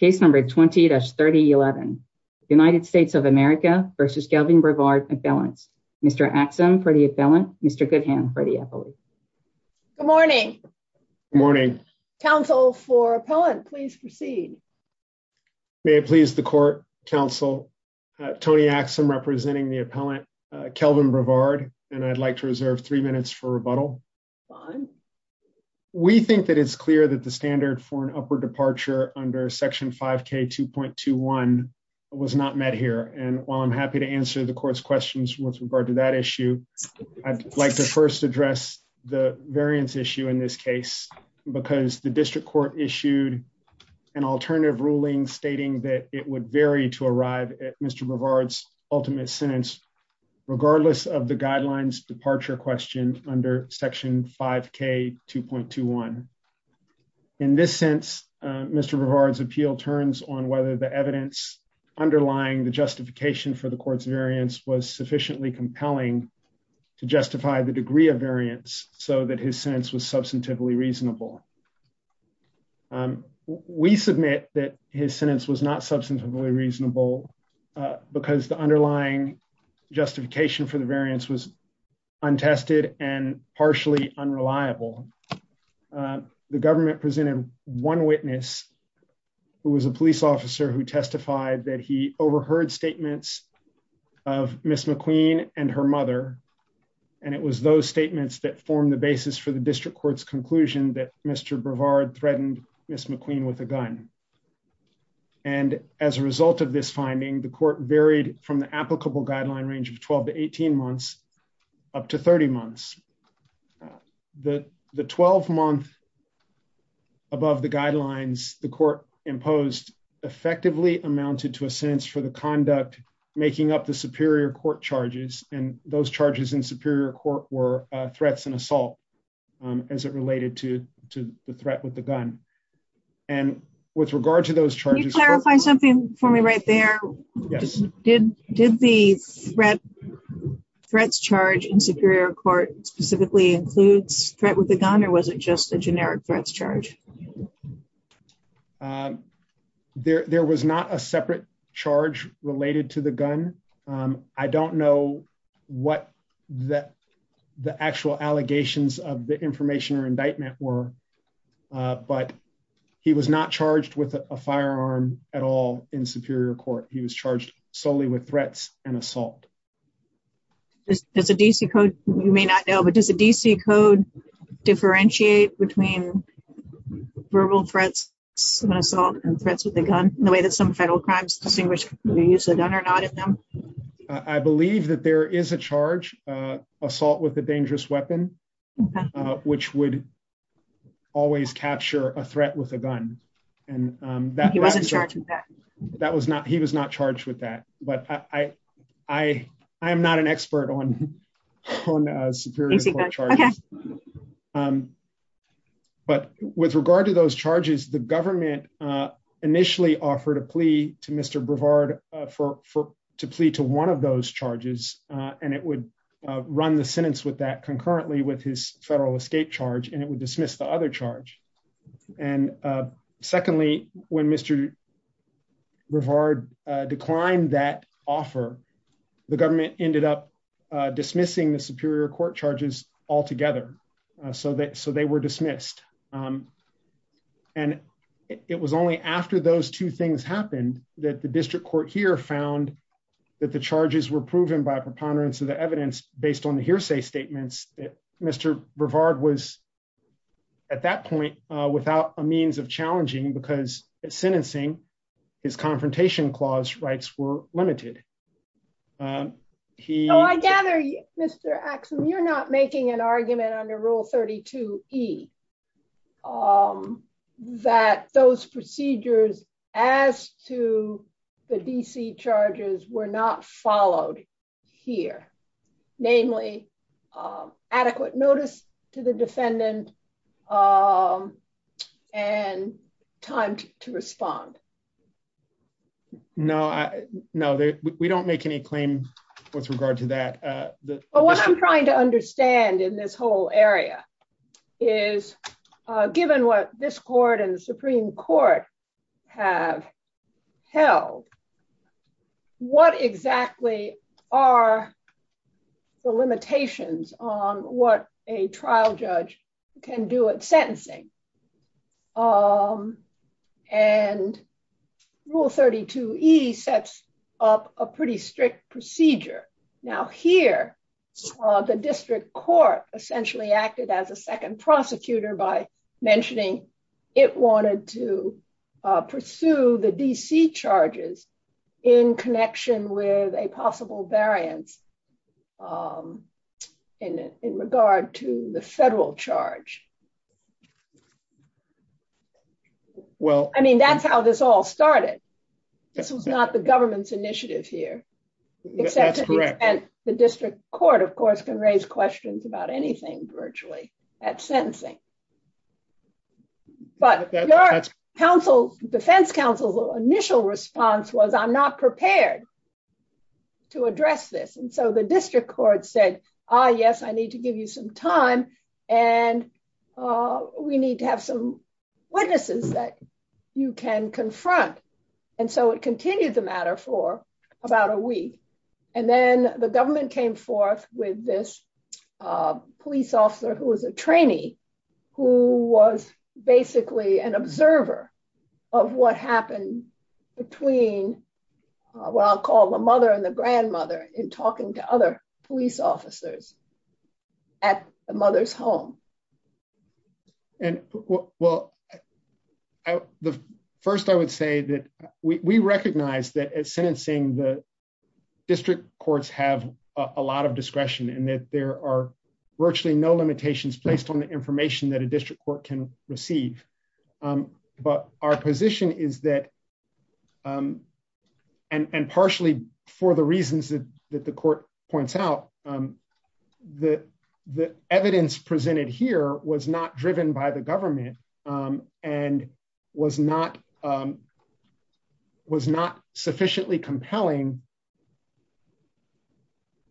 20-3011. United States of America v. Kelvin Brevard Appellant. Mr. Axum for the Appellant. Mr. Goodham for the Appellant. Good morning. Good morning. Counsel for Appellant, please proceed. May it please the Court, Counsel, Tony Axum representing the Appellant, Kelvin Brevard, and I'd like to reserve three minutes for rebuttal. We think that it's clear that the standard for an upward departure under Section 5K 2.21 was not met here. And while I'm happy to answer the Court's questions with regard to that issue, I'd like to first address the variance issue in this case, because the district court issued an alternative ruling stating that it would vary to arrive at Mr. Brevard's ultimate sentence, regardless of the guidelines departure question under Section 5K 2.21. In this sense, Mr. Brevard's appeal turns on whether the evidence underlying the justification for the Court's variance was sufficiently compelling to justify the degree of variance so that his sentence was substantively reasonable. We submit that his sentence was not substantively reasonable because the underlying justification for the variance was untested and partially unreliable. The government presented one witness who was a police officer who testified that he overheard statements of Ms. McQueen and her mother, and it was those statements that formed the basis for the district court's conclusion that Mr. Brevard threatened Ms. McQueen with a gun. And as a result of this finding, the Court varied from the applicable guideline range of 12 to 18 months up to 30 months. The 12-month above the guidelines the Court imposed effectively amounted to a sentence for the conduct making up the superior court charges, and those charges in superior court were threats and assault as it related to the threat with the gun. And with regard to those charges... Can you clarify something for me right there? Yes. Did the threats charge in superior court specifically include threat with the gun, or was it just a generic threats charge? There was not a separate charge related to the gun. I don't know what the actual allegations of the information or indictment were, but he was not charged with a firearm at all in superior court. He was charged solely with threats and assault. Does the D.C. Code, you may not know, but does the D.C. Code differentiate between verbal threats and assault and threats with a gun in the way that some federal crimes distinguish whether you use a gun or not? I believe that there is a charge, assault with a dangerous weapon, which would always capture a threat with a gun. He wasn't charged with that? He was not charged with that, but I am not an expert on superior court charges. But with regard to those charges, the government initially offered a plea to Mr. Brevard to plea to one of those charges, and it would run the sentence with that concurrently with his federal escape charge, and it would dismiss the other charge. And secondly, when Mr. Brevard declined that offer, the government ended up dismissing the superior court charges altogether, so they were dismissed. And it was only after those two things happened that the district court here found that the charges were proven by preponderance of the evidence based on the hearsay statements. Mr. Brevard was, at that point, without a means of challenging, because in sentencing, his confrontation clause rights were limited. I gather, Mr. Axel, you're not making an argument under Rule 32E that those procedures as to the DC charges were not followed here, namely adequate notice to the defendant and time to respond. No, we don't make any claims with regard to that. But what I'm trying to understand in this whole area is, given what this court and the Supreme Court have held, what exactly are the limitations on what a trial judge can do at sentencing? And Rule 32E sets up a pretty strict procedure. Now, here, the district court essentially acted as a second prosecutor by mentioning it wanted to pursue the DC charges in connection with a possible variance in regard to the federal charge. Well, I mean, that's how this all started. This was not the government's initiative here. That's correct. And the district court, of course, can raise questions about anything virtually at sentencing. But the defense counsel's initial response was, I'm not prepared to address this. And so the district court said, ah, yes, I need to give you some time, and we need to have some witnesses that you can confront. And so it continued the matter for about a week. And then the government came forth with this police officer who was a trainee, who was basically an observer of what happened between what I'll call the mother and the grandmother in talking to other police officers at the mother's home. And, well, first I would say that we recognize that at sentencing the district courts have a lot of discretion and that there are virtually no limitations placed on the information that a district court can receive. But our position is that, and partially for the reasons that the court points out, the evidence presented here was not driven by the government and was not sufficiently compelling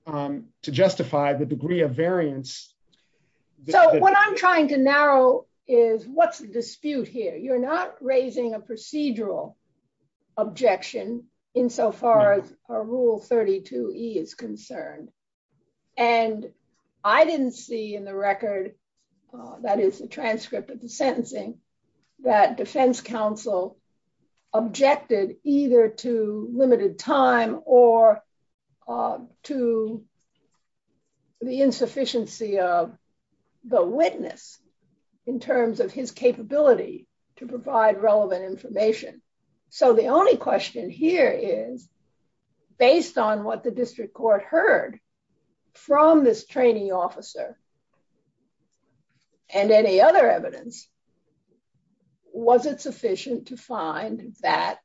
to justify the degree of variance. So what I'm trying to narrow is, what's the dispute here? You're not raising a procedural objection insofar as our Rule 32e is concerned. And I didn't see in the record, that is the transcript of the sentencing, that defense counsel objected either to limited time or to the insufficiency of the witness in terms of his capability to provide relevant information. So the only question here is, based on what the district court heard from this training officer and any other evidence, was it sufficient to find that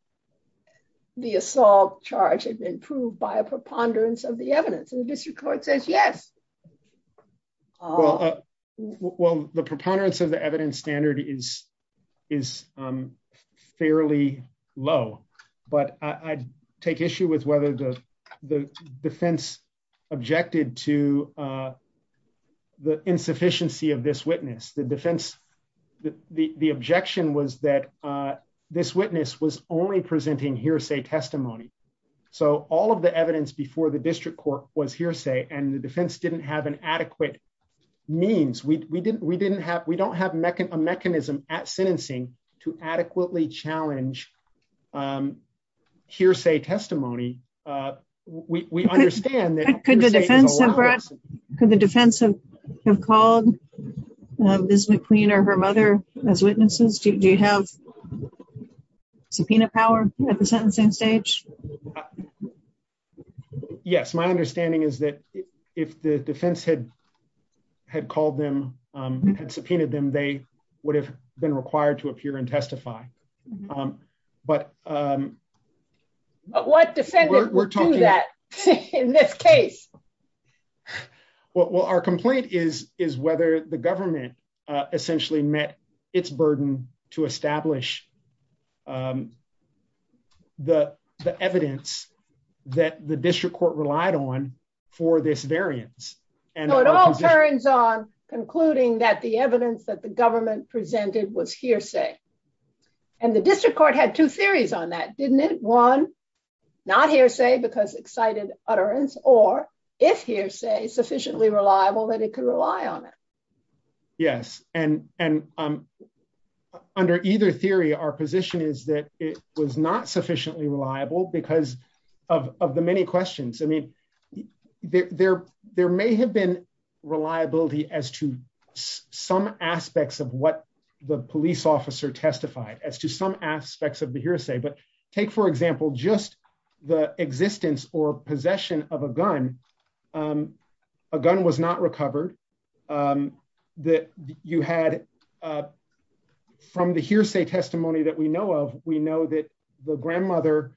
the assault charge has been proved by a preponderance of the evidence? And the district court says yes. Well, the preponderance of the evidence standard is fairly low. But I take issue with whether the defense objected to the insufficiency of this witness. The objection was that this witness was only presenting hearsay testimony. So all of the evidence before the district court was hearsay, and the defense didn't have an adequate means. We don't have a mechanism at sentencing to adequately challenge hearsay testimony. Could the defense have called Ms. McQueen or her mother as witnesses? Do you have subpoena power at the sentencing stage? Yes. My understanding is that if the defense had called them and subpoenaed them, they would have been required to appear and testify. But what defense would do that in this case? Well, our complaint is whether the government essentially met its burden to establish the evidence that the district court relied on for this variance. So it all turns on concluding that the evidence that the government presented was hearsay. And the district court had two theories on that, didn't it? One, not hearsay because excited utterance, or if hearsay is sufficiently reliable that it could rely on it. Yes. And under either theory, our position is that it was not sufficiently reliable because of the many questions. I mean, there may have been reliability as to some aspects of what the police officer testified, as to some aspects of the hearsay. But take, for example, just the existence or possession of a gun. A gun was not recovered. From the hearsay testimony that we know of, we know that the grandmother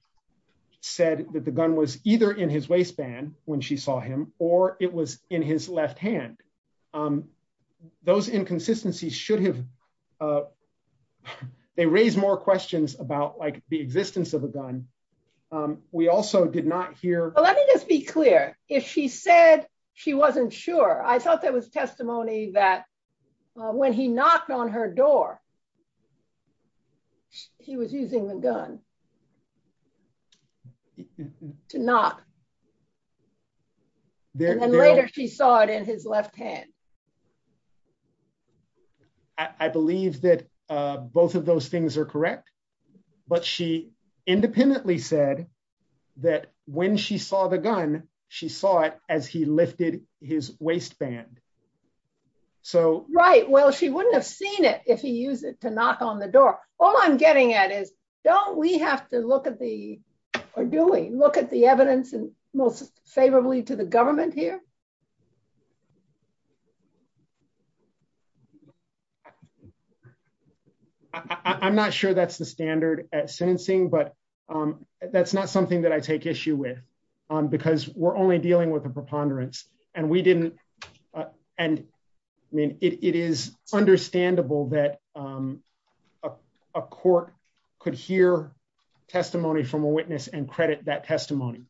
said that the gun was either in his waistband when she saw him or it was in his left hand. Those inconsistencies should have raised more questions about the existence of a gun. We also did not hear. Let me just be clear. If she said she wasn't sure, I thought that was testimony that when he knocked on her door, he was using the gun to knock. And then later she saw it in his left hand. I believe that both of those things are correct. But she independently said that when she saw the gun, she saw it as he lifted his waistband. Right. Well, she wouldn't have seen it if he used it to knock on the door. All I'm getting at is, don't we have to look at the evidence most favorably to the government here? I'm not sure that's the standard at sentencing, but that's not something that I take issue with. Because we're only dealing with the preponderance. And it is understandable that a court could hear testimony from a witness and credit that testimony.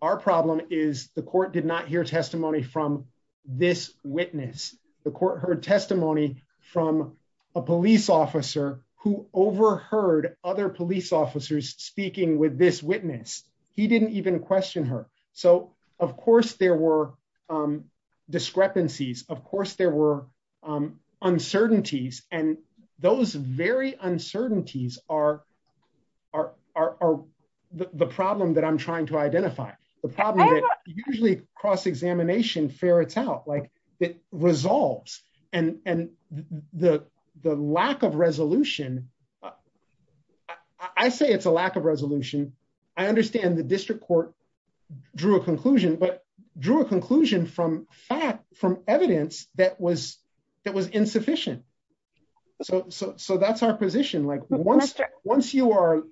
Our problem is the court did not hear testimony from this witness. The court heard testimony from a police officer who overheard other police officers speaking with this witness. He didn't even question her. So, of course, there were discrepancies. Of course, there were uncertainties. And those very uncertainties are the problem that I'm trying to identify. The problem that usually cross-examination ferrets out. It resolves. And the lack of resolution, I say it's a lack of resolution. I understand the district court drew a conclusion, but drew a conclusion from evidence that was insufficient. So that's our position. Once you are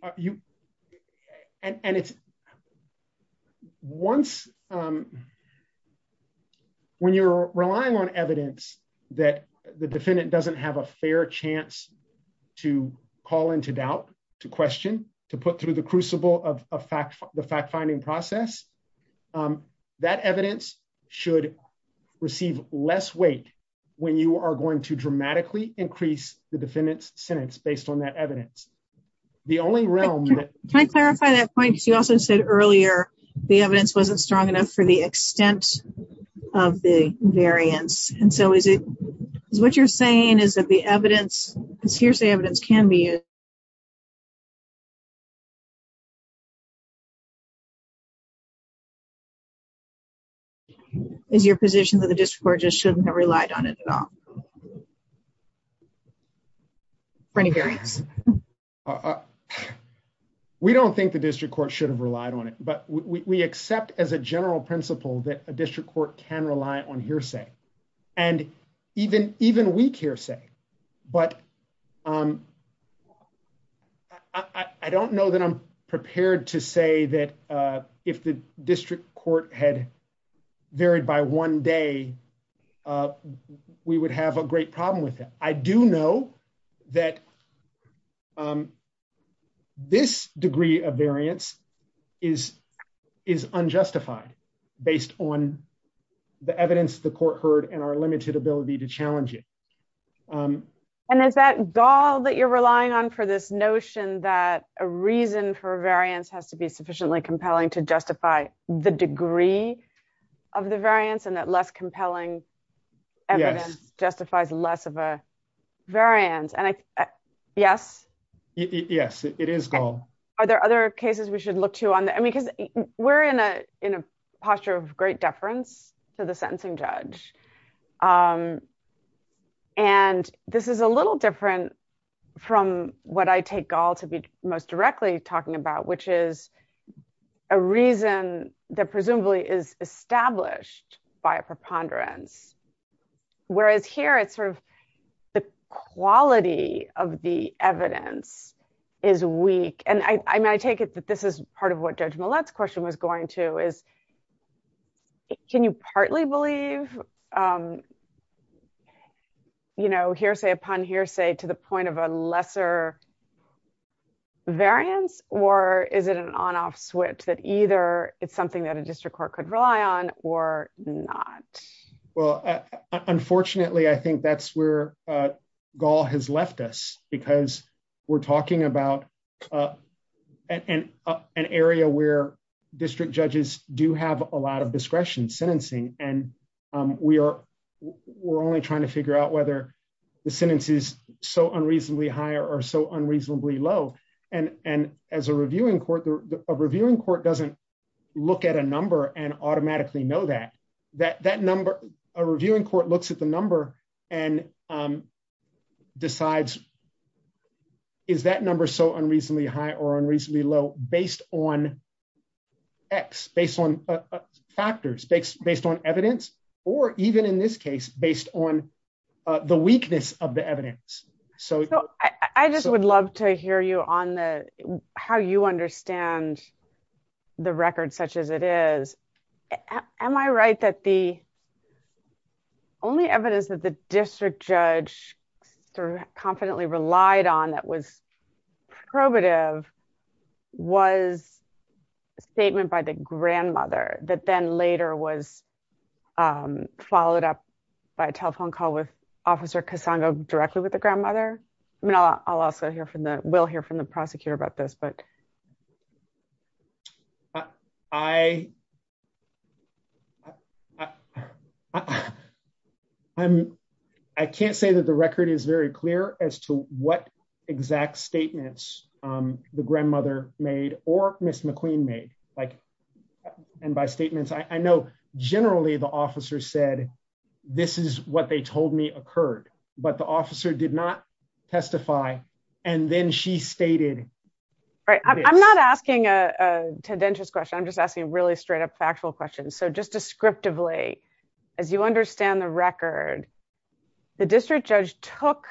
‑‑ when you're relying on evidence that the defendant doesn't have a fair chance to call into doubt, to question, to put through the crucible of the fact‑finding process, that evidence should receive less weight when you are going to The only room that ‑‑ Can I clarify that point? You also said earlier the evidence wasn't strong enough for the extent of the variance. And so is it ‑‑ what you're saying is that the evidence, the evidence can be ‑‑ Is your position that the district court just shouldn't have relied on it at all? We don't think the district court should have relied on it. But we accept as a general principle that a district court can rely on hearsay. And even weak hearsay. But I don't know that I'm prepared to say that if the district court had varied by one day, we would have a great problem with it. I do know that this degree of variance is unjustified based on the evidence the court heard and our limited ability to challenge it. And is that gall that you're relying on for this notion that a reason for a variance has to be sufficiently compelling to justify the degree of the variance and that less compelling evidence justifies less of a variance? Yes? Yes, it is gall. Are there other cases we should look to on that? We're in a posture of great deference to the sentencing judge. And this is a little different from what I take gall to be most directly talking about, which is a reason that presumably is established by a preponderance. Whereas here it's sort of the quality of the evidence is weak. And I take it that this is part of what Judge Millett's question was going to is can you partly believe hearsay upon hearsay to the point of a lesser variance? Or is it an on-off switch that either it's something that a district court could rely on or not? Well, unfortunately, I think that's where gall has left us because we're talking about an area where district judges do have a lot of discretion in sentencing. And we're only trying to figure out whether the sentence is so unreasonably high or so unreasonably low. And as a reviewing court, a reviewing court doesn't look at a number and automatically know that. A reviewing court looks at the number and decides is that number so unreasonably high or unreasonably low based on X, based on factors, based on evidence, or even in this case, based on the weakness of the evidence. I just would love to hear you on how you understand the record such as it is. Am I right that the only evidence that the district judge confidently relied on that was probative was a statement by the grandmother that then later was followed up by a telephone call with Officer Casano directly with the grandmother? I mean, I'll also hear from the will hear from the prosecutor about this, but. I can't say that the record is very clear as to what exact statements the grandmother made or Ms. McQueen made. And by statements, I know generally the officer said, this is what they told me occurred, but the officer did not testify. And then she stated. All right, I'm not asking a tedentious question. I'm just asking really straight up factual questions. So just descriptively, as you understand the record, the district judge took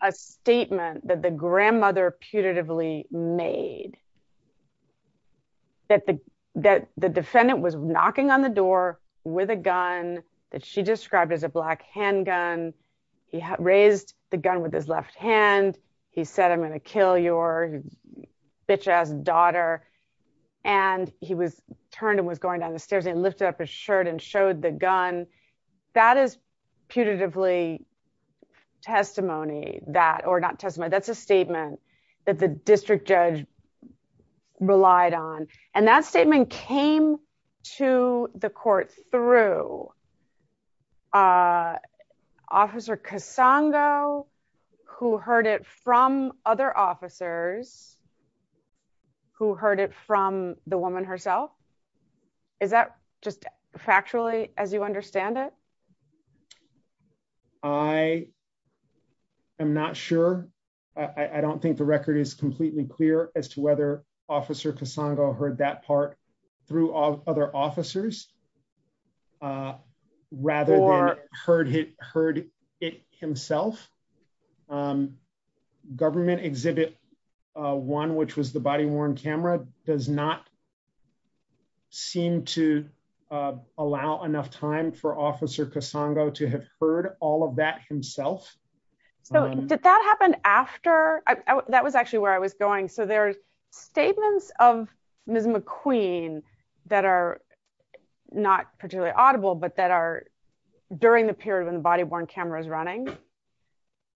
a statement that the grandmother putatively made. That the defendant was knocking on the door with a gun that she described as a black handgun. He raised the gun with his left hand. He said, I'm going to kill your bitch ass daughter. And he was turned and was going down the stairs and lifted up his shirt and showed the gun. And that is putatively testimony that or not testimony. That's a statement that the district judge relied on. And that statement came to the court through Officer Casano, who heard it from other officers, who heard it from the woman herself. Is that just factually, as you understand it? I am not sure. I don't think the record is completely clear as to whether Officer Casano heard that part through all other officers. Rather than heard it himself. Government Exhibit 1, which was the body-worn camera, does not seem to allow enough time for Officer Casano to have heard all of that himself. So did that happen after? That was actually where I was going. So there's statements of Ms. McQueen that are not particularly audible, but that are during the period when the body-worn camera is running.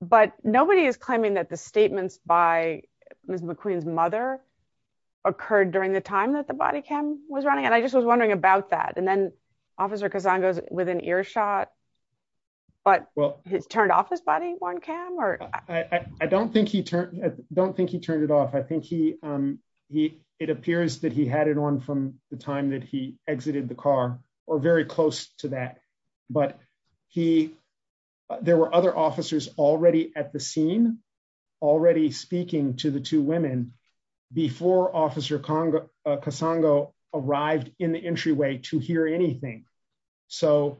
But nobody is claiming that the statements by Ms. McQueen's mother occurred during the time that the body cam was running. And I just was wondering about that. And then Officer Casano was in earshot. But was it turned off, this body-worn camera? I don't think he turned it off. I think it appears that he had it on from the time that he exited the car, or very close to that. But there were other officers already at the scene, already speaking to the two women, before Officer Casano arrived in the entryway to hear anything. So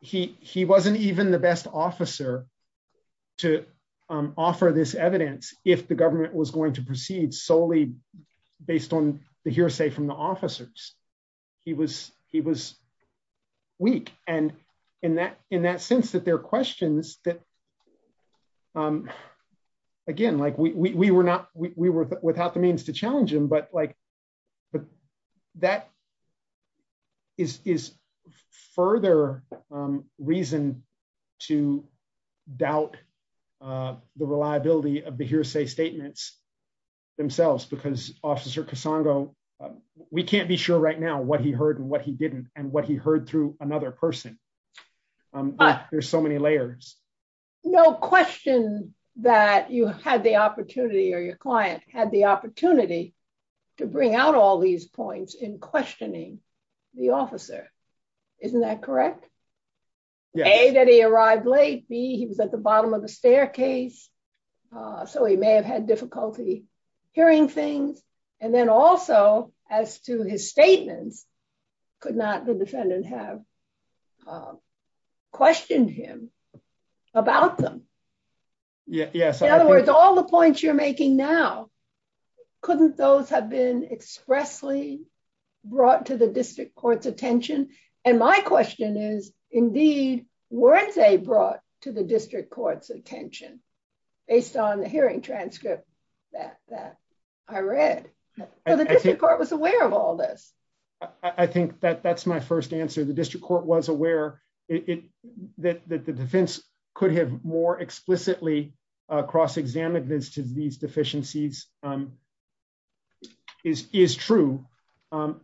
he wasn't even the best officer to offer this evidence if the government was going to proceed solely based on the hearsay from the officers. He was weak. And in that sense that there are questions that, again, we were without the means to challenge him, but that is further reason to doubt the reliability of the hearsay statements themselves. Because Officer Casano, we can't be sure right now what he heard and what he didn't and what he heard through another person. But there's so many layers. No question that you have had the opportunity or your client had the opportunity to bring out all these points in questioning the officer. Isn't that correct? A, that he arrived late. B, he was at the bottom of the staircase, so he may have had difficulty hearing things. And then also, as to his statements, could not the defendant have questioned him about them? In other words, all the points you're making now, couldn't those have been expressly brought to the district court's attention? And my question is, indeed, weren't they brought to the district court's attention based on the hearing transcript that I read? So the district court was aware of all this. I think that that's my first answer. The district court was aware that the defense could have more explicitly cross-examined these deficiencies is true.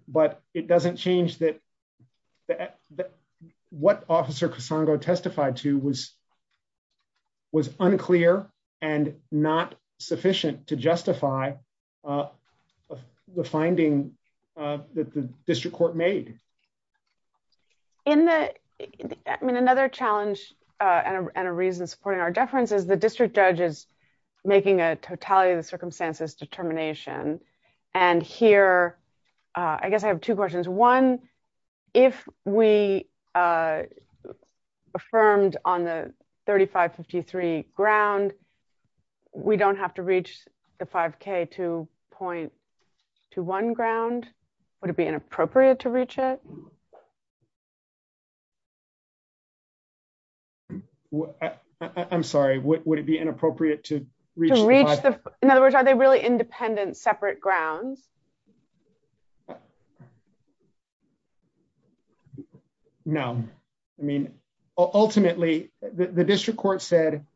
But it doesn't change that what Officer Casongo testified to was unclear and not sufficient to justify the finding that the district court made. I mean, another challenge and a reason supporting our deference is the district judge is making a totality of the circumstances determination. And here, I guess I have two questions. One, if we affirmed on the 3553 ground, we don't have to reach the 5K to point to one ground? Would it be inappropriate to reach it? I'm sorry, would it be inappropriate to reach the 5K? In other words, are they really independent, separate grounds? No. I mean, ultimately, the district court said,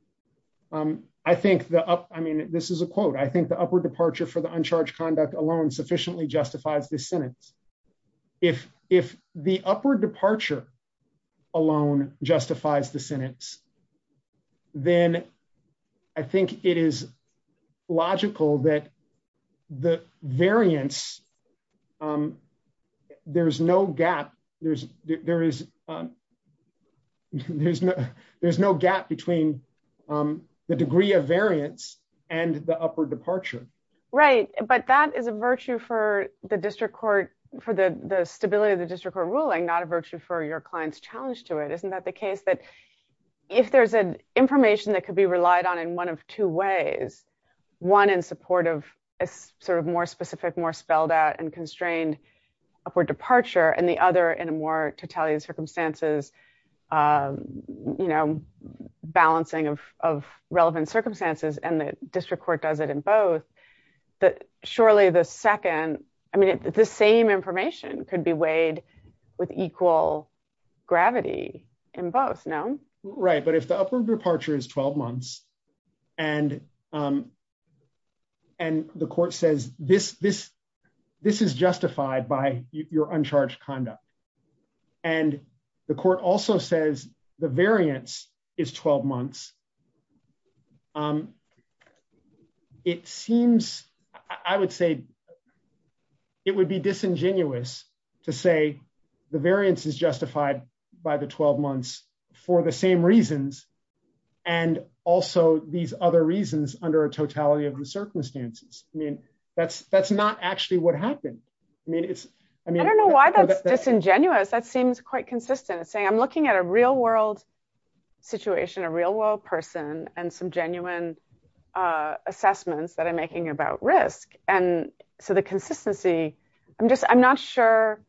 I think the up, I mean, this is a quote, I think the upward departure for the uncharged conduct alone sufficiently justifies this sentence. If the upward departure alone justifies the sentence, then I think it is logical that the variance, there's no gap, there's no gap between the degree of variance and the upward departure. Right, but that is a virtue for the district court, for the stability of the district court ruling, not a virtue for your client's challenge to it. Isn't that the case that if there's an information that could be relied on in one of two ways, one in support of a sort of more specific, more spelled out and constrained upward departure and the other in a more totality of circumstances, you know, balancing of relevant circumstances and the district court does it in both. Surely the second, I mean, the same information could be weighed with equal gravity in both, no? Right, but if the upward departure is 12 months, and the court says this is justified by your uncharged conduct, and the court also says the variance is 12 months, it seems, I would say, it would be disingenuous to say the variance is justified by the 12 months for the same reasons and also these other reasons under a totality of the circumstances. I mean, that's not actually what happened. I don't know why that's disingenuous, that seems quite consistent, saying I'm looking at a real world situation, a real world person, and some genuine assessments that I'm making about risk. And so the consistency, I'm just, I'm not sure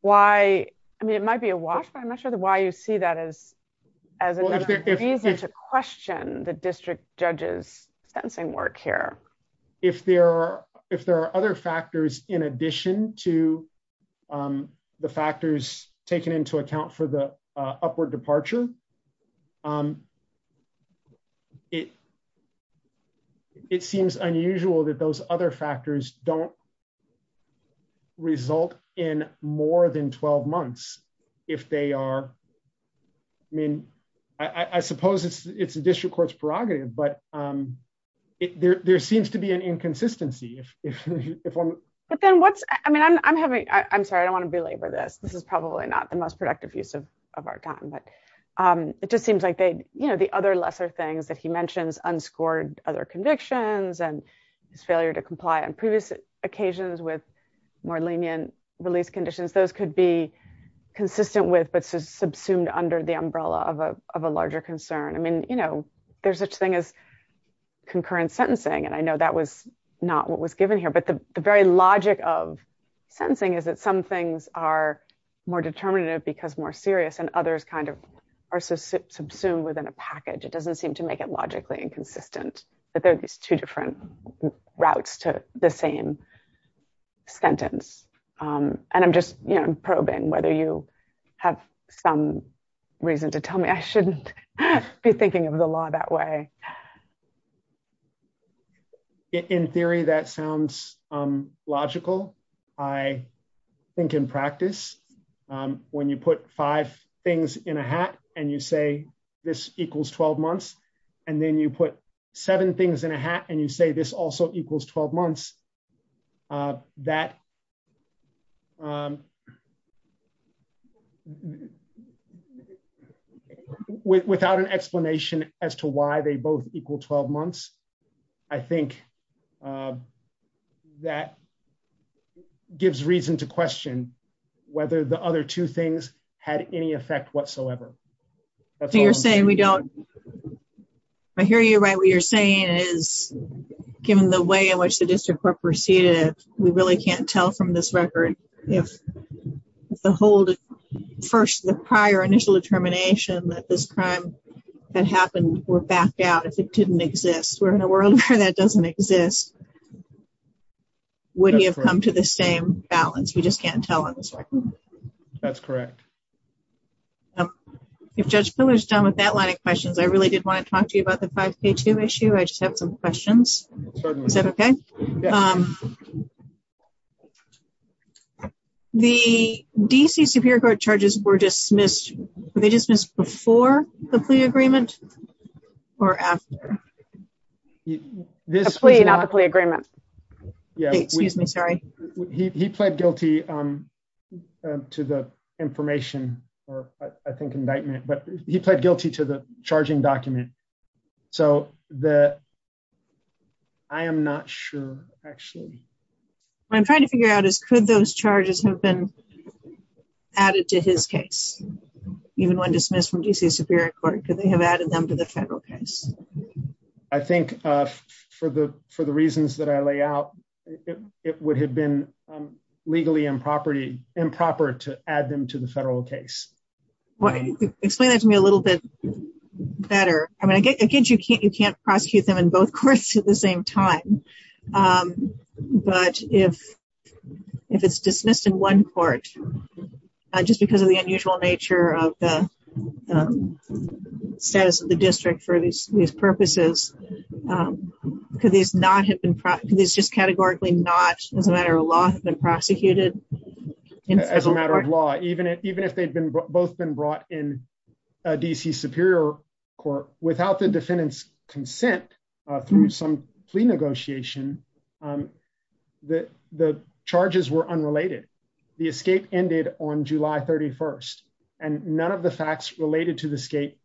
why, I mean, it might be a wash, but I'm not sure why you see that as a reason to question the district judge's sentencing work here. If there are other factors in addition to the factors taken into account for the upward departure, it seems unusual that those other factors don't result in more than 12 months. I mean, I suppose it's a district court's prerogative, but there seems to be an inconsistency. But then what's, I mean, I'm having, I'm sorry, I don't want to belabor this, this is probably not the most productive use of our time, but it just seems like they, you know, the other lesser things that he mentions, unscored other convictions and failure to comply on previous occasions with more lenient relief conditions, those could be consistent with, but subsumed under the umbrella of a larger concern. I mean, you know, there's such thing as concurrent sentencing, and I know that was not what was given here, but the very logic of sentencing is that some things are more determinative because more serious and others kind of are subsumed within a package. It doesn't seem to make it logically inconsistent that there's two different routes to the same sentence. And I'm just, you know, probing whether you have some reason to tell me I shouldn't be thinking of the law that way. In theory, that sounds logical. I think in practice, when you put five things in a hat and you say this equals 12 months, and then you put seven things in a hat and you say this also equals 12 months, that without an explanation as to why they both equal 12 months, I think that gives reason to question whether the other two things had any effect whatsoever. I hear you right. What you're saying is, given the way in which the district court proceeded, we really can't tell from this record if the prior initial determination that this crime that happened were backed out if it didn't exist. Where in the world that doesn't exist, would he have come to the same balance? We just can't tell on this record. That's correct. If Judge Miller's done with that line of questions, I really did want to talk to you about the 5K2 issue. I just have some questions. Is that okay? The D.C. Superior Court charges were dismissed, were they dismissed before the plea agreement or after? The plea, not the plea agreement. Excuse me, sorry. He pled guilty to the information, or I think indictment, but he pled guilty to the charging document. I am not sure, actually. What I'm trying to figure out is, could those charges have been added to his case, even when dismissed from D.C. Superior Court? Could they have added them to the federal case? I think for the reasons that I lay out, it would have been legally improper to add them to the federal case. Explain that to me a little bit better. Again, you can't prosecute them in both courts at the same time. But if it's dismissed in one court, just because of the unusual nature of the status of the district for these purposes, could these just categorically not, as a matter of law, have been prosecuted? As a matter of law, even if they'd both been brought in D.C. Superior Court without the defendant's consent through some plea negotiation, the charges were unrelated. The escape ended on July 31st, and none of the facts related to the escape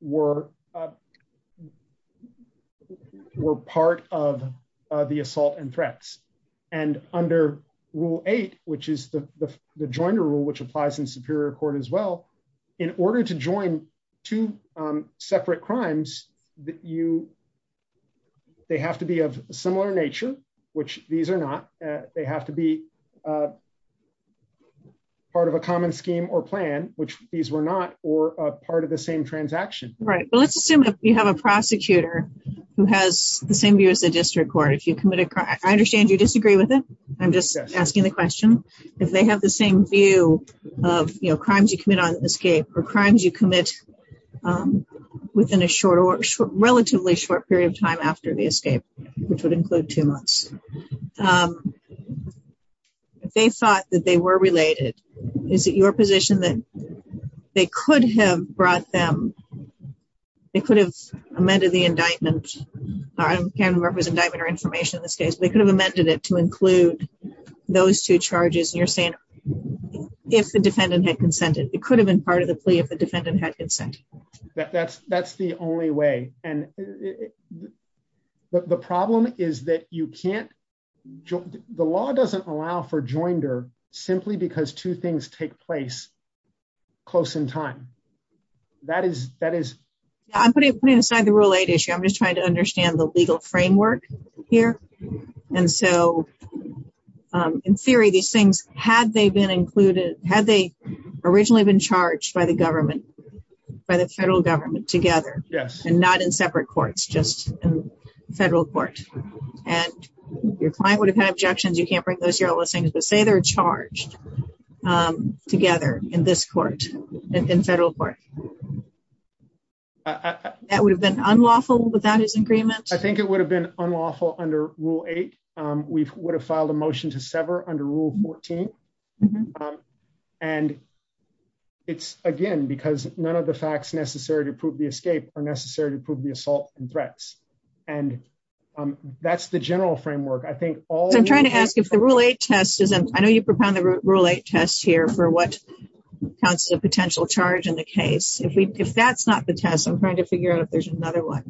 were part of the assault and threats. Under Rule 8, which is the Joiner Rule, which applies in Superior Court as well, in order to join two separate crimes, they have to be of similar nature, which these are not. They have to be part of a common scheme or plan, which these were not, or part of the same transaction. Let's assume you have a prosecutor who has the same view as the district court. I understand you disagree with it. I'm just asking the question. If they have the same view of crimes you commit on escape, or crimes you commit within a relatively short period of time after the escape, which would include two months, if they thought that they were related, is it your position that they could have brought them, they could have amended the indictment, or information in this case, they could have amended it to include those two charges, and you're saying if the defendant had consented. It could have been part of the plea if the defendant had consented. That's the only way, and the problem is that you can't, the law doesn't allow for joinder simply because two things take place close in time. I'm putting aside the Rule 8 issue. I'm just trying to understand the legal framework here. And so, in theory, these things, had they been included, had they originally been charged by the government, by the federal government together, and not in separate courts, just federal courts, and your client would have had objections. You can't bring those here, all those things, but say they're charged together in this court, in federal court. That would have been unlawful, the bondage agreement? I think it would have been unlawful under Rule 8. We would have filed a motion to sever under Rule 14. And it's, again, because none of the facts necessary to prove the escape are necessary to prove the assault and threats. And that's the general framework. I think all... I'm trying to ask if the Rule 8 test isn't... I know you put down the Rule 8 test here for what constitutes a potential charge in the case. If that's not the test, I'm trying to figure out if there's another one.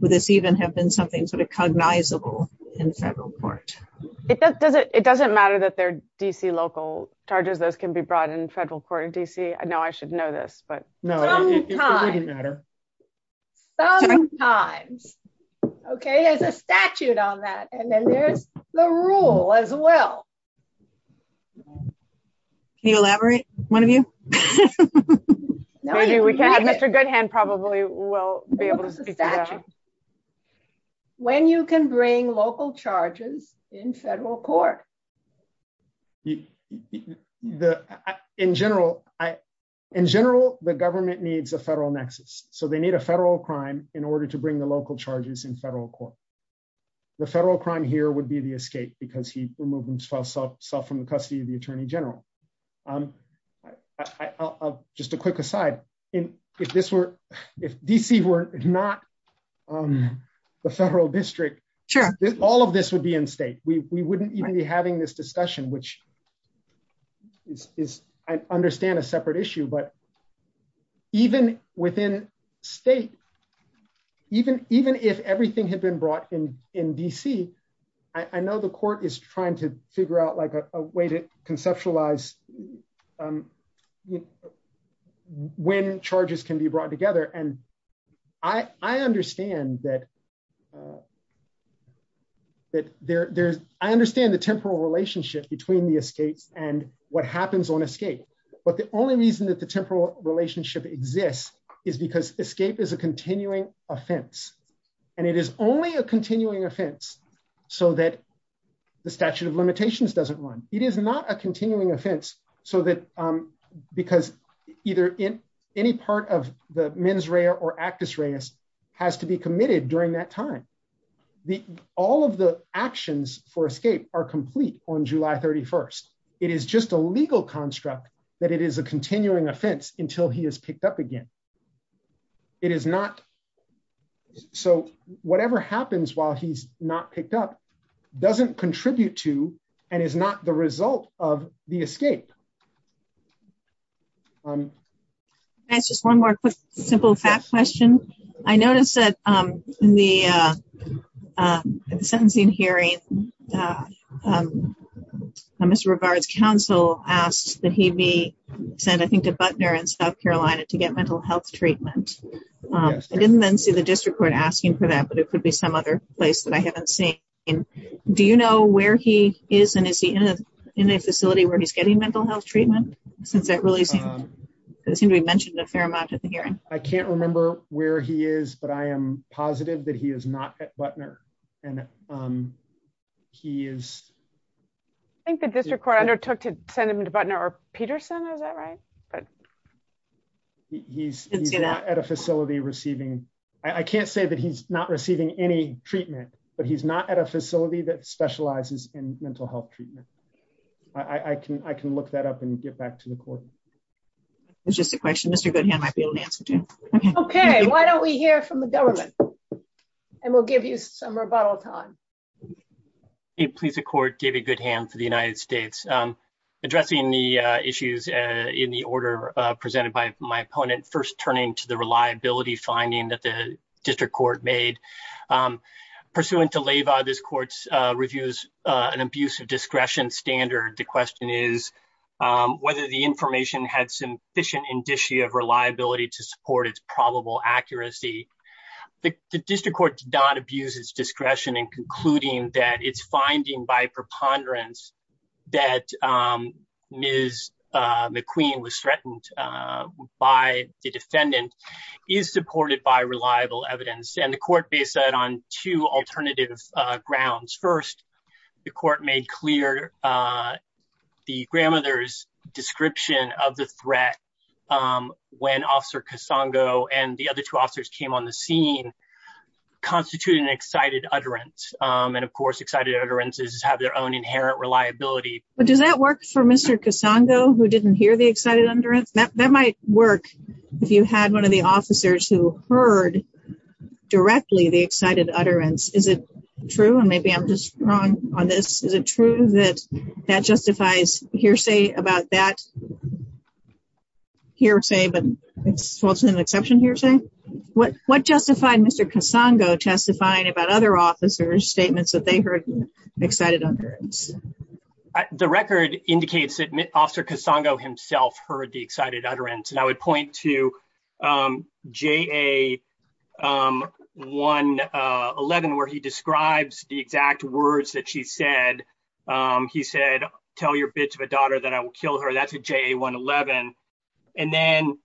Would this even have been something sort of cognizable in federal court? It doesn't matter that they're D.C. local charges. Those can be brought in federal court in D.C. No, I should know this, but... Sometimes. Sometimes. Okay, there's a statute on that, and then there's the rule as well. Can you elaborate, one of you? Mr. Goodhand probably will be able to speak to that. When you can bring local charges in federal court. In general, the government needs a federal nexus. So they need a federal crime in order to bring the local charges in federal court. The federal crime here would be the escape because he removed himself from the custody of the Attorney General. Just a quick aside, if D.C. were not the federal district, all of this would be in state. We wouldn't even be having this discussion, which I understand is a separate issue. But even within state, even if everything had been brought in D.C., I know the court is trying to figure out a way to conceptualize when charges can be brought together. I understand the temporal relationship between the escape and what happens on escape. But the only reason that the temporal relationship exists is because escape is a continuing offense. And it is only a continuing offense so that the statute of limitations doesn't run. It is not a continuing offense because any part of the mens rea or actus reus has to be committed during that time. All of the actions for escape are complete on July 31st. It is just a legal construct that it is a continuing offense until he is picked up again. So whatever happens while he is not picked up doesn't contribute to and is not the result of the escape. Just one more quick simple facts question. I noticed that in the sentencing hearing, Mr. Brevard's counsel asked that he be sent I think to Butner in South Carolina to get mental health treatment. I didn't then see the district court asking for that, but it could be some other place that I haven't seen. Do you know where he is and is he in a facility where he is getting mental health treatment? It seemed to be mentioned a fair amount at the hearing. I can't remember where he is, but I am positive that he is not at Butner. I think the district court undertook to send him to Butner or Peterson. Is that right? He is not at a facility receiving, I can't say that he is not receiving any treatment, but he is not at a facility that specializes in mental health treatment. I can look that up and get back to the court. It is just a question Mr. Goodham might be able to answer too. Okay, why don't we hear from the government and we will give you some rebuttal time. Please, the court gave a good hand to the United States. Addressing the issues in the order presented by my opponent, first turning to the reliability finding that the district court made. Pursuant to Leva, this court reviews an abuse of discretion standard. The question is whether the information had sufficient indicia of reliability to support its probable accuracy. The district court did not abuse its discretion in concluding that its finding by preponderance that Ms. McQueen was threatened by the defendant is supported by reliable evidence. The court based that on two alternative grounds. First, the court made clear the grandmother's description of the threat when Officer Casongo and the other two officers came on the scene, constituting an excited utterance. Of course, excited utterances have their own inherent reliability. Does that work for Mr. Casongo who didn't hear the excited utterance? That might work if you had one of the officers who heard directly the excited utterance. Is it true, and maybe I'm just wrong on this, is it true that that justifies hearsay about that hearsay, but it's also an exception hearsay? What justified Mr. Casongo testifying about other officers' statements that they heard excited utterance? The record indicates that Officer Casongo himself heard the excited utterance. And I would point to JA111 where he describes the exact words that she said. He said, tell your bitch of a daughter that I will kill her. That's a JA111. And then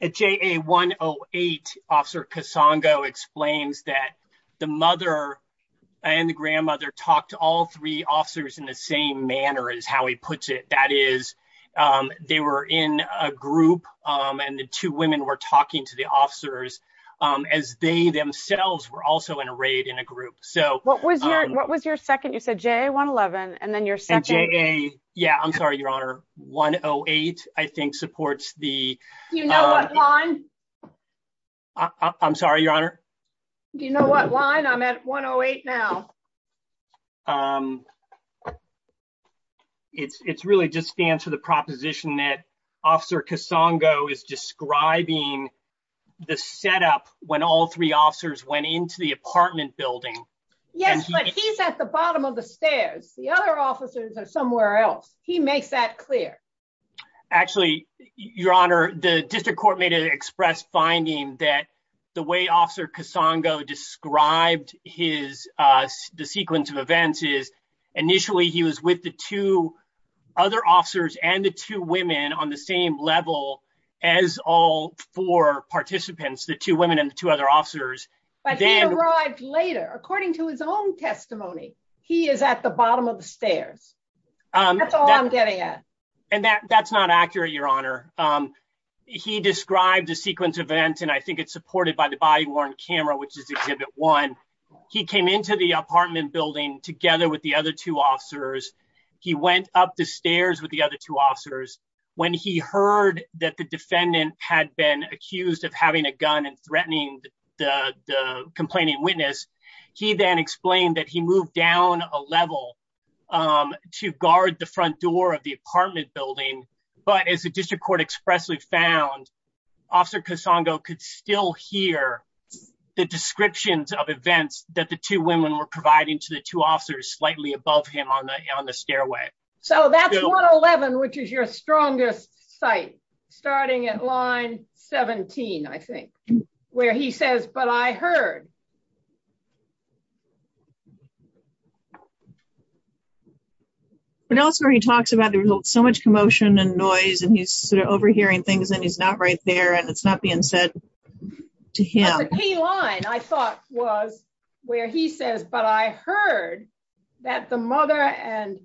at JA108, Officer Casongo explains that the mother and the grandmother talked to all three officers in the same manner is how he puts it. That is, they were in a group and the two women were talking to the officers as they themselves were also in a raid in a group. What was your second? You said JA111 and then your second? Yeah, I'm sorry, Your Honor. JA108, I think, supports the… Do you know what line? I'm sorry, Your Honor? Do you know what line? I'm at JA108 now. It's really just stands for the proposition that Officer Casongo is describing the setup when all three officers went into the apartment building. Yes, but he's at the bottom of the stairs. The other officers are somewhere else. He makes that clear. Actually, Your Honor, the district court made an express finding that the way Officer Casongo described the sequence of events is initially he was with the two other officers and the two women on the same level as all four participants, the two women and two other officers. But he arrived later. According to his own testimony, he is at the bottom of the stairs. That's all I'm getting at. That's not accurate, Your Honor. He described the sequence of events, and I think it's supported by the body-worn camera, which is exhibit one. He came into the apartment building together with the other two officers. He went up the stairs with the other two officers. When he heard that the defendant had been accused of having a gun and threatening the complaining witness, he then explained that he moved down a level to guard the front door of the apartment building. But as the district court expressly found, Officer Casongo could still hear the descriptions of events that the two women were providing to the two officers slightly above him on the stairway. So that's 111, which is your strongest site, starting at line 17, I think, where he says, but I heard. But also he talks about there's so much commotion and noise and he's sort of overhearing things that he's not right there and it's not being said to him. The key line, I thought, was where he says, but I heard that the mother, and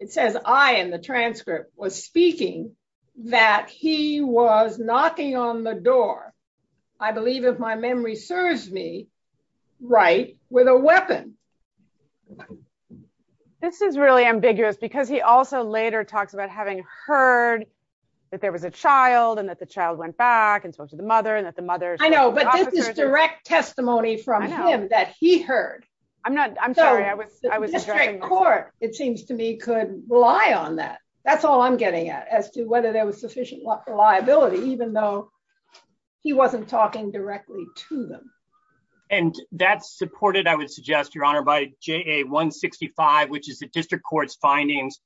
it says I in the transcript, was speaking, that he was knocking on the door, I believe, if my memory serves me right, with a weapon. This is really ambiguous because he also later talks about having heard that there was a child and that the child went back and so did the mother. I know, but this is direct testimony from him that he heard. I'm not, I'm sorry. It seems to me could rely on that. That's all I'm getting at, as to whether there was sufficient liability, even though he wasn't talking directly to them. And that's supported, I would suggest, Your Honor, by JA-165, which is the district court's findings.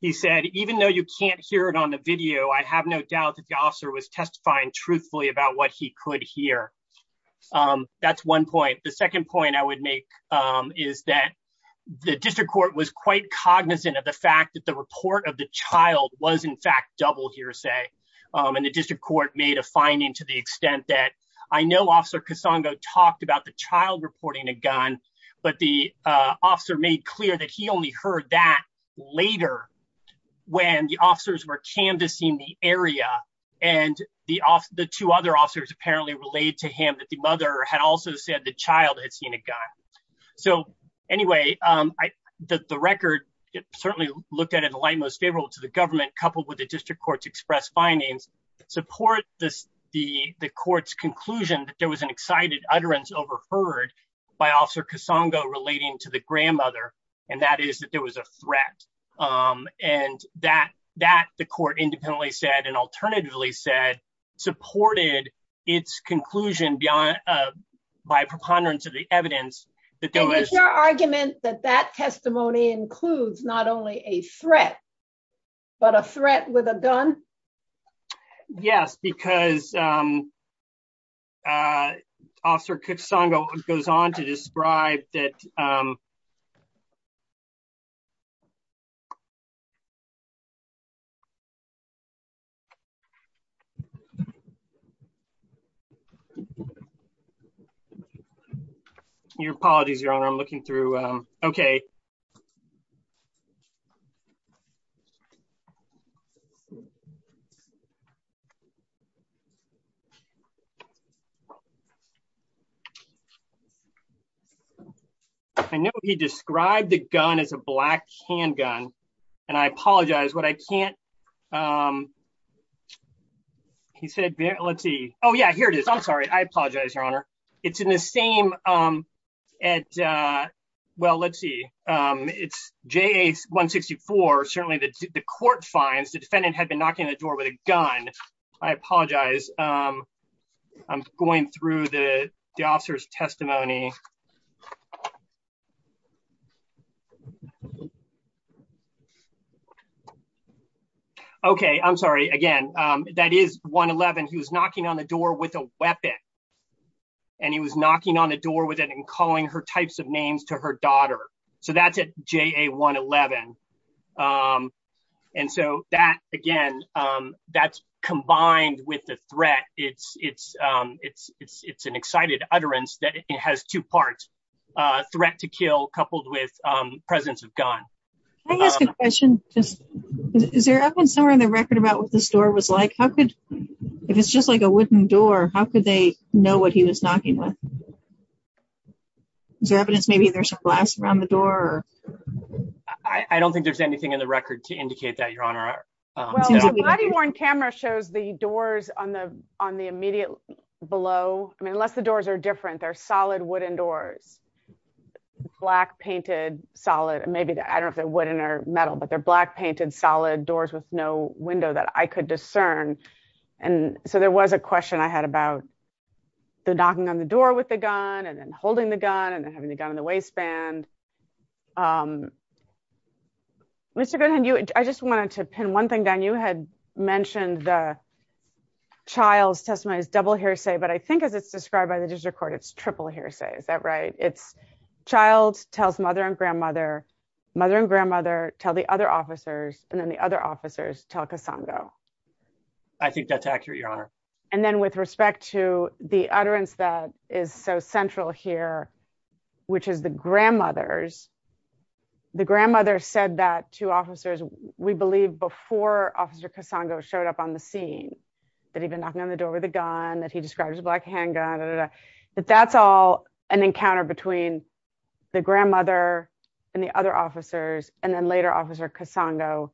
He said, even though you can't hear it on the video, I have no doubt that the officer was testifying truthfully about what he could hear. That's one point. The second point I would make is that the district court was quite cognizant of the fact that the report of the child was in fact double hearsay. And the district court made a finding to the extent that I know Officer Casongo talked about the child reporting a gun, but the officer made clear that he only heard that later when the officers were canvassing the area and the two other officers apparently relayed to him that the mother had also said the child had seen a gun. So, anyway, the record certainly looked at it in the light most favorable to the government, coupled with the district court's express findings, supports the court's conclusion that there was an excited utterance overheard by Officer Casongo relating to the grandmother, and that is that there was a threat. And that the court independently said, and alternatively said, supported its conclusion by preponderance of the evidence. Is your argument that that testimony includes not only a threat, but a threat with a gun? Yes, because Officer Casongo goes on to describe that. Your apologies, Your Honor, I'm looking through. Okay. I know he described the gun as a black handgun, and I apologize, but I can't. He said, let's see. Oh yeah, here it is. I'm sorry. I apologize, Your Honor. It's in the same at. Well, let's see. It's J164. Certainly the court finds the defendant had been knocking on the door with a gun. I apologize. I'm going through the officer's testimony. Okay, I'm sorry. Again, that is 111. He was knocking on the door with a weapon, and he was knocking on the door with it and calling her types of names to her daughter. So that's at JA111. And so that, again, that's combined with the threat. It's an excited utterance that it has two parts. Threat to kill, coupled with presence of gun. I have a question. Is there evidence somewhere in the record about what this door was like? If it's just like a wooden door, how could they know what he was knocking with? Is there evidence maybe there's some glass around the door? I don't think there's anything in the record to indicate that, Your Honor. Well, the body-worn camera shows the doors on the immediate below. I mean, unless the doors are different, they're solid wooden doors. Black painted, solid. Maybe, I don't know if they're wooden or metal, but they're black painted, solid doors with no window that I could discern. So there was a question I had about the knocking on the door with the gun, and then holding the gun, and then having the gun in the waistband. Mr. Goodwin, I just wanted to pin one thing down. You had mentioned the child's testimony as double hearsay, but I think as it's described by the judicial court, it's triple hearsay. Is that right? It's child tells mother and grandmother, mother and grandmother tell the other officers, and then the other officers tell Cassandra. I think that's accurate, Your Honor. And then with respect to the utterance that is so central here, which is the grandmother's. The grandmother said that to officers, we believe, before Officer Cassandra showed up on the scene, that he'd been knocking on the door with a gun, that he describes a black handgun. But that's all an encounter between the grandmother and the other officers, and then later Officer Cassandra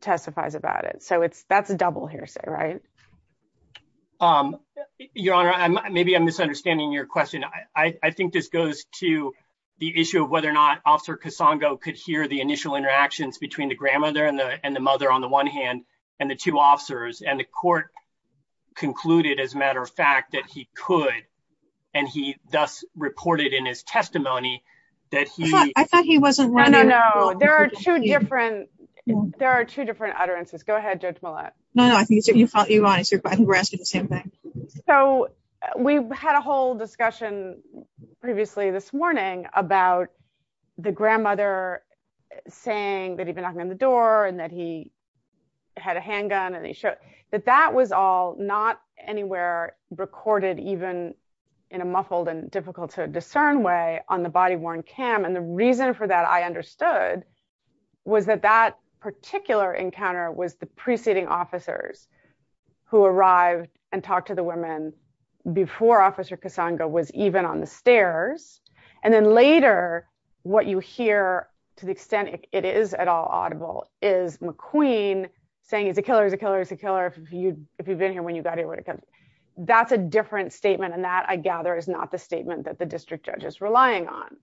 testifies about it. So that's a double hearsay, right? Your Honor, maybe I'm misunderstanding your question. I think this goes to the issue of whether or not Officer Cassandra could hear the initial interactions between the grandmother and the mother on the one hand, and the two officers. And the court concluded, as a matter of fact, that he could, and he thus reported in his testimony that he… I thought he wasn't… No, no, no. There are two different utterances. Go ahead, Judge Millett. No, no, I think you're… I think we're asking the same thing. So we've had a whole discussion previously this morning about the grandmother saying that he'd been knocking on the door and that he had a handgun and he showed… But that was all not anywhere recorded even in a muffled and difficult to discern way on the body-worn cam. And the reason for that, I understood, was that that particular encounter was the preceding officers who arrived and talked to the women before Officer Cassandra was even on the stairs. And then later, what you hear, to the extent it is at all audible, is McQueen saying, it's a killer, it's a killer, it's a killer if you've been here when you got here. That's a different statement, and that, I gather, is not the statement that the district judge is relying on.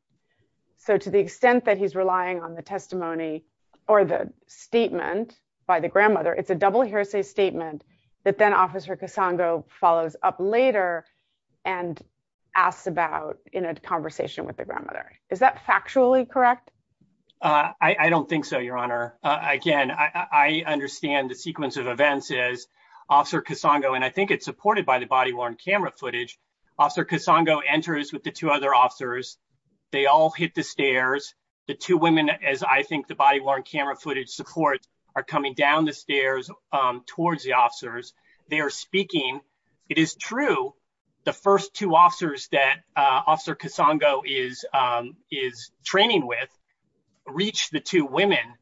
So to the extent that he's relying on the testimony or the statement by the grandmother, it's a double hearsay statement that then Officer Cassandra follows up later and asks about in a conversation with the grandmother. Is that factually correct? I don't think so, Your Honor. Again, I understand the sequence of events is Officer Cassandra, and I think it's supported by the body-worn camera footage. Officer Cassandra enters with the two other officers. They all hit the stairs. The two women, as I think the body-worn camera footage supports, are coming down the stairs towards the officers. They are speaking. It is true, the first two officers that Officer Cassandra is training with reached the two women.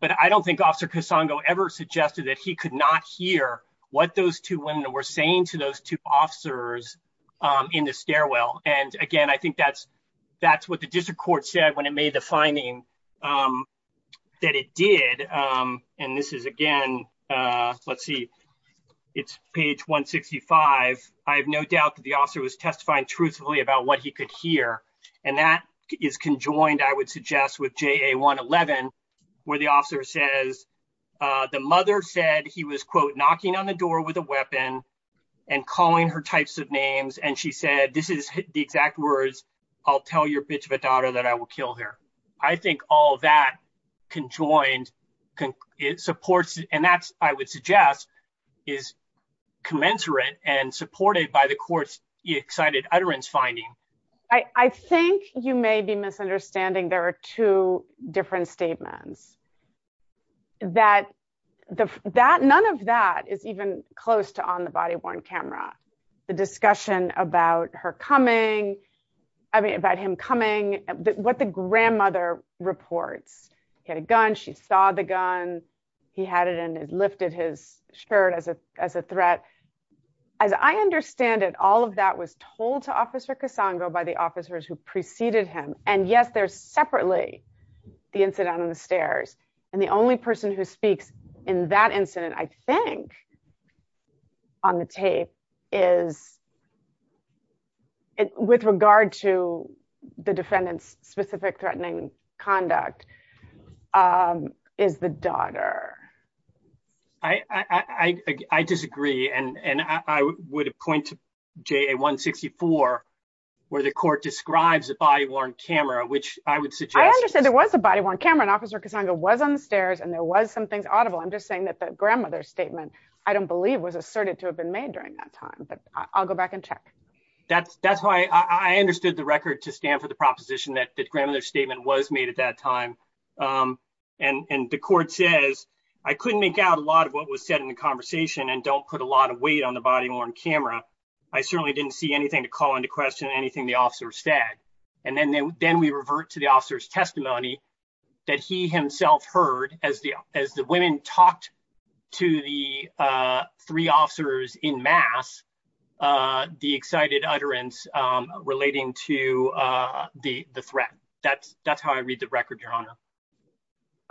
But I don't think Officer Cassandra ever suggested that he could not hear what those two women were saying to those two officers in the stairwell. And again, I think that's what the district court said when it made the finding that it did. And this is, again, let's see, it's page 165. I have no doubt that the officer was testifying truthfully about what he could hear, and that is conjoined, I would suggest, with JA111, where the officer says, the mother said he was, quote, knocking on the door with a weapon and calling her types of names, and she said, this is the exact words, I'll tell your bitch of a daughter that I will kill her. I think all that conjoined supports, and that's, I would suggest, is commensurate and supported by the court's excited utterance finding. I think you may be misunderstanding. There are two different statements. None of that is even close to on the body-worn camera. The discussion about her coming, I mean, about him coming, what the grandmother reports. He had a gun, she saw the gun, he had it and had lifted his shirt as a threat. As I understand it, all of that was told to Officer Casango by the officers who preceded him, and yet there's separately the incident on the stairs. And the only person who speaks in that incident, I think, on the tape is, with regard to the defendant's specific threatening conduct, is the daughter. I disagree, and I would point to JA-164, where the court describes a body-worn camera, which I would suggest. I understand there was a body-worn camera, and Officer Casango was on the stairs, and there was something audible. I'm just saying that the grandmother's statement, I don't believe, was asserted to have been made during that time. But I'll go back and check. That's why I understood the record to stand for the proposition that the grandmother's statement was made at that time. And the court says, I couldn't make out a lot of what was said in the conversation, and don't put a lot of weight on the body-worn camera. I certainly didn't see anything to call into question anything the officer said. And then we revert to the officer's testimony that he himself heard as the women talked to the three officers in mass, the excited utterance relating to the threat. That's how I read the record, Your Honor.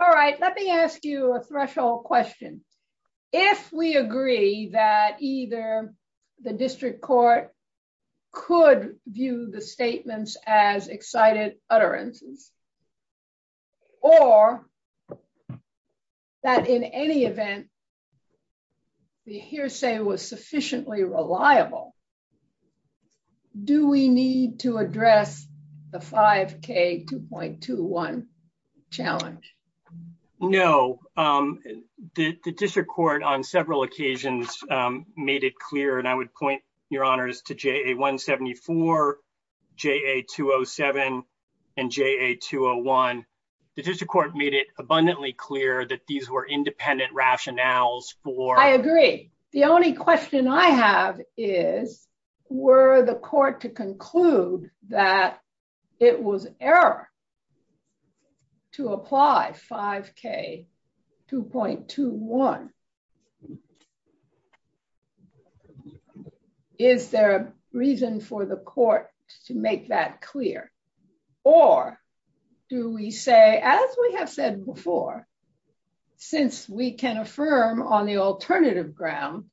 All right, let me ask you a threshold question. If we agree that either the district court could view the statements as excited utterances, or that in any event, the hearsay was sufficiently reliable, do we need to address the 5K 2.21 challenge? No. The district court on several occasions made it clear, and I would point, Your Honors, to JA 174, JA 207, and JA 201. The district court made it abundantly clear that these were independent rationales for… I agree. The only question I have is, were the court to conclude that it was error to apply 5K 2.21? Is there a reason for the court to make that clear? Or do we say, as we have said before, since we can affirm on the alternative ground,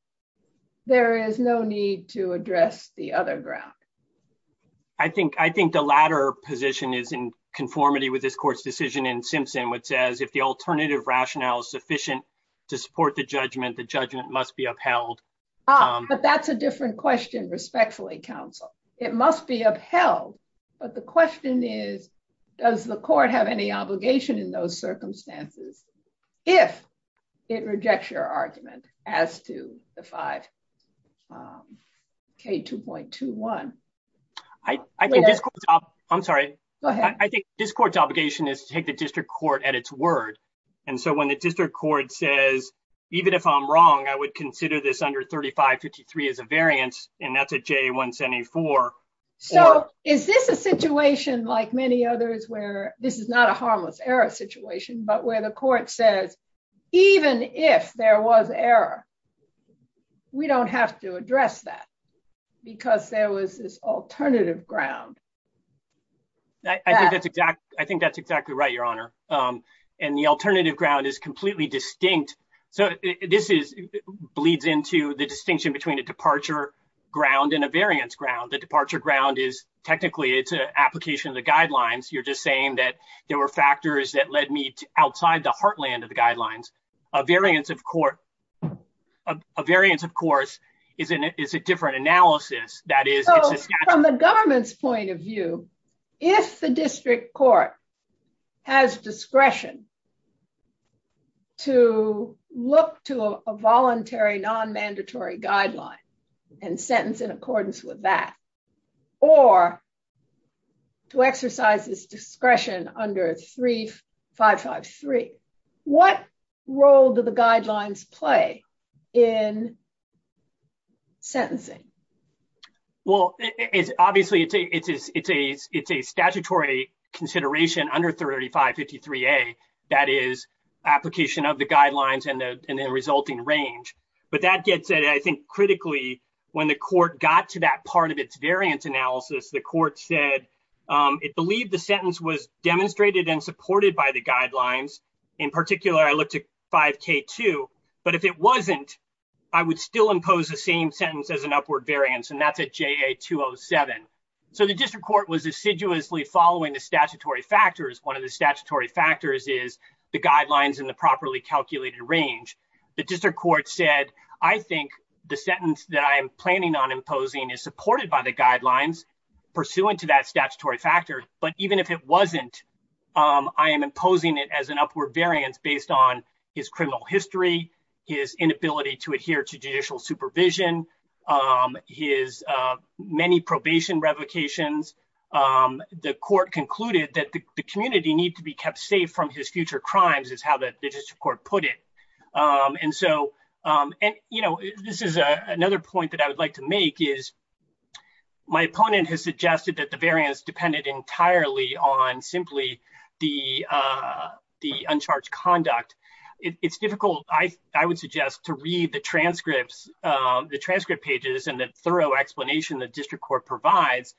there is no need to address the other ground? I think the latter position is in conformity with this court's decision in Simpson, which says if the alternative rationale is sufficient to support the judgment, the judgment must be upheld. But that's a different question, respectfully, counsel. It must be upheld. But the question is, does the court have any obligation in those circumstances if it rejects your argument as to the 5K 2.21? I think this court's obligation is to take the district court at its word. And so when the district court says, even if I'm wrong, I would consider this under 3553 as a variance, and that's a JA 174… So, is this a situation like many others where this is not a harmless error situation, but where the court says, even if there was error, we don't have to address that because there was this alternative ground? I think that's exactly right, Your Honor. And the alternative ground is completely distinct. So, this bleeds into the distinction between a departure ground and a variance ground. The departure ground is, technically, it's an application of the guidelines. You're just saying that there were factors that led me outside the heartland of the guidelines. A variance, of course, is a different analysis. So, from the government's point of view, if the district court has discretion to look to a voluntary non-mandatory guideline and sentence in accordance with that, or to exercise this discretion under 3553, what role do the guidelines play in sentencing? Well, obviously, it's a statutory consideration under 3553A, that is, application of the guidelines and the resulting range. But that gets, I think, critically, when the court got to that part of its variance analysis, the court said it believed the sentence was demonstrated and supported by the guidelines. In particular, I looked at 5K2, but if it wasn't, I would still impose the same sentence as an upward variance, and that's at JA207. So, the district court was assiduously following the statutory factors. One of the statutory factors is the guidelines and the properly calculated range. The district court said, I think the sentence that I am planning on imposing is supported by the guidelines pursuant to that statutory factor, but even if it wasn't, I am imposing it as an upward variance based on his criminal history, his inability to adhere to judicial supervision, his many probation revocations. The court concluded that the community needs to be kept safe from his future crimes, is how the district court put it. And so, you know, this is another point that I would like to make is, my opponent has suggested that the variance depended entirely on simply the uncharged conduct. It's difficult, I would suggest, to read the transcripts, the transcript pages and the thorough explanation the district court provides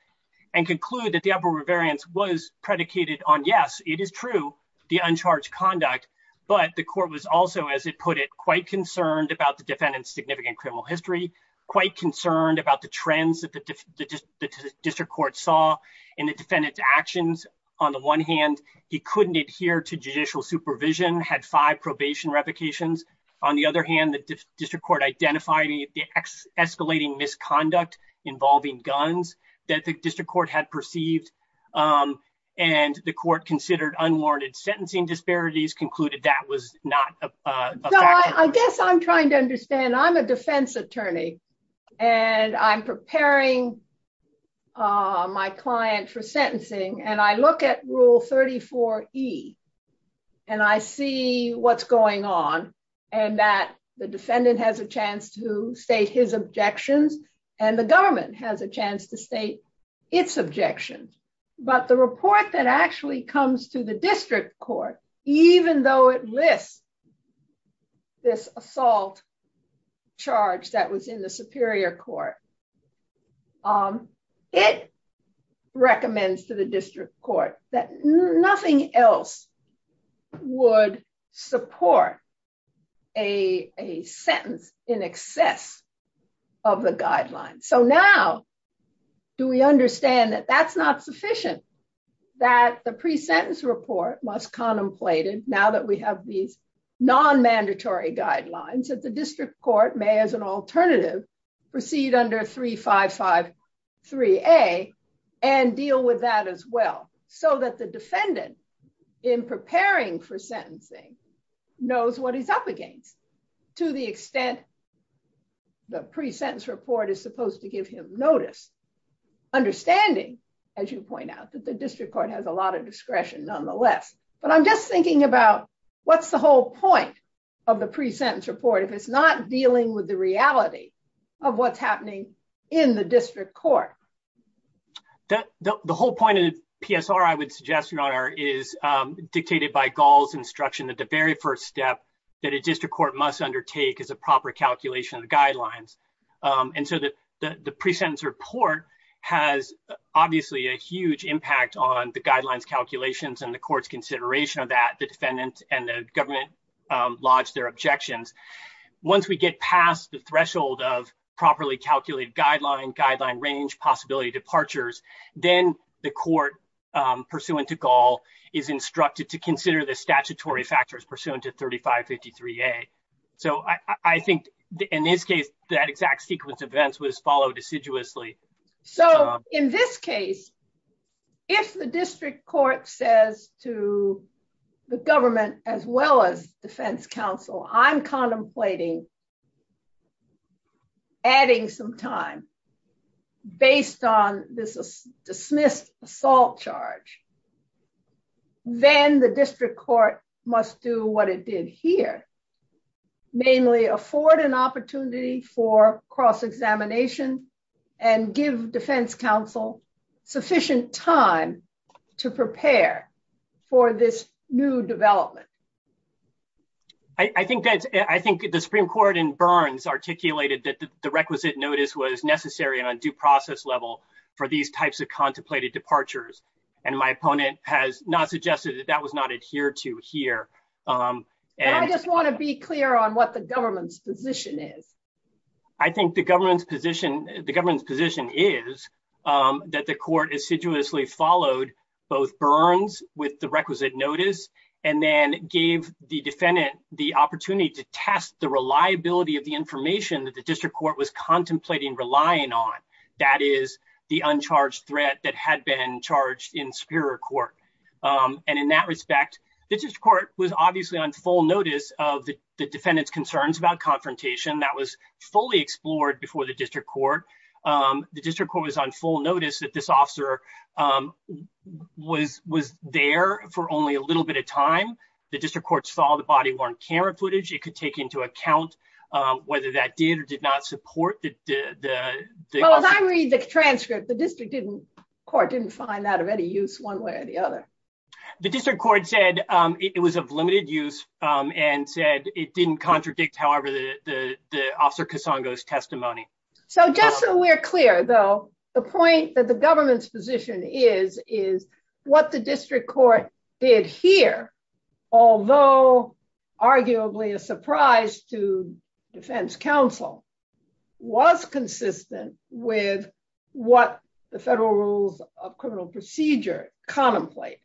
and conclude that the upward variance was predicated on, yes, it is true, the uncharged conduct, but the court was also, as it put it, quite concerned about the defendant's significant criminal history, quite concerned about the trends that the district court saw in the defendant's actions. On the one hand, he couldn't adhere to judicial supervision, had five probation revocations. On the other hand, the district court identified the escalating misconduct involving guns that the district court had perceived, and the court considered unwarranted sentencing disparities, concluded that was not a factor. So I guess I'm trying to understand, I'm a defense attorney, and I'm preparing my client for sentencing, and I look at Rule 34E, and I see what's going on, and that the defendant has a chance to state his objections, and the government has a chance to state its objections. But the report that actually comes to the district court, even though it lists this assault charge that was in the superior court, it recommends to the district court that nothing else would support a sentence in excess of the guideline. So now, do we understand that that's not sufficient, that the pre-sentence report must contemplate it, now that we have these non-mandatory guidelines, that the district court may, as an alternative, proceed under 3553A and deal with that as well, so that the defendant, in preparing for sentencing, knows what he's up against, to the extent the pre-sentence report is supposed to give him notice, understanding, as you point out, that the district court has a lot of discretion, nonetheless. But I'm just thinking about, what's the whole point of the pre-sentence report if it's not dealing with the reality of what's happening in the district court? The whole point of the PSR, I would suggest, Your Honor, is dictated by Gall's instruction that the very first step that a district court must undertake is a proper calculation of the guidelines. And so the pre-sentence report has, obviously, a huge impact on the guidelines calculations and the court's consideration of that, the defendant and the government lodge their objections. Once we get past the threshold of properly calculated guideline, guideline range, possibility departures, then the court, pursuant to Gall, is instructed to consider the statutory factors pursuant to 3553A. So I think, in this case, that exact sequence of events was followed assiduously. So, in this case, if the district court says to the government, as well as defense counsel, I'm contemplating adding some time based on this dismissed assault charge, then the district court must do what it did here, namely afford an opportunity for cross-examination and give defense counsel sufficient time to prepare for this new development. I think the Supreme Court in Burns articulated that the requisite notice was necessary on a due process level for these types of contemplated departures, and my opponent has not suggested that that was not adhered to here. And I just want to be clear on what the government's position is. I think the government's position is that the court assiduously followed both Burns with the requisite notice and then gave the defendant the opportunity to test the reliability of the information that the district court was contemplating relying on. That is the uncharged threat that had been charged in Superior Court. And in that respect, the district court was obviously on full notice of the defendant's concerns about confrontation. That was fully explored before the district court. The district court was on full notice that this officer was there for only a little bit of time. The district court followed the body worn camera footage. It could take into account whether that did or did not support the defense counsel's position. And finally, the transcript, the district court didn't find that of any use one way or the other. The district court said it was of limited use and said it didn't contradict, however, the officer Casongo's testimony. So just so we're clear, though, the point that the government's position is, is what the district court did here, although arguably a surprise to defense counsel, was consistent with what the federal rules of criminal procedure contemplate.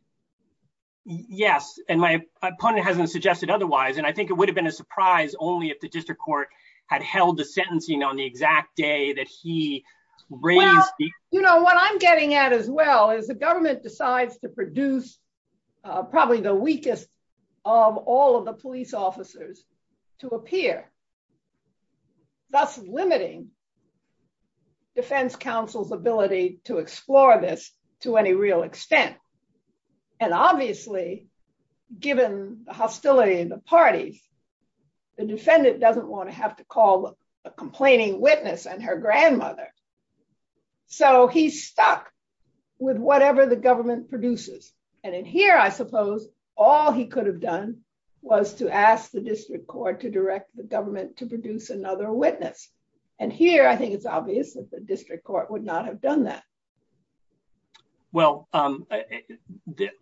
Yes, and my opponent hasn't suggested otherwise. And I think it would have been a surprise only if the district court had held the sentencing on the exact day that he raised the... And obviously, given the hostility of the party, the defendant doesn't want to have to call a complaining witness and her grandmother. So he's stuck with whatever the government produces. And in here, I suppose, all he could have done was to ask the district court to direct the government to produce another witness. And here, I think it's obvious that the district court would not have done that. Well,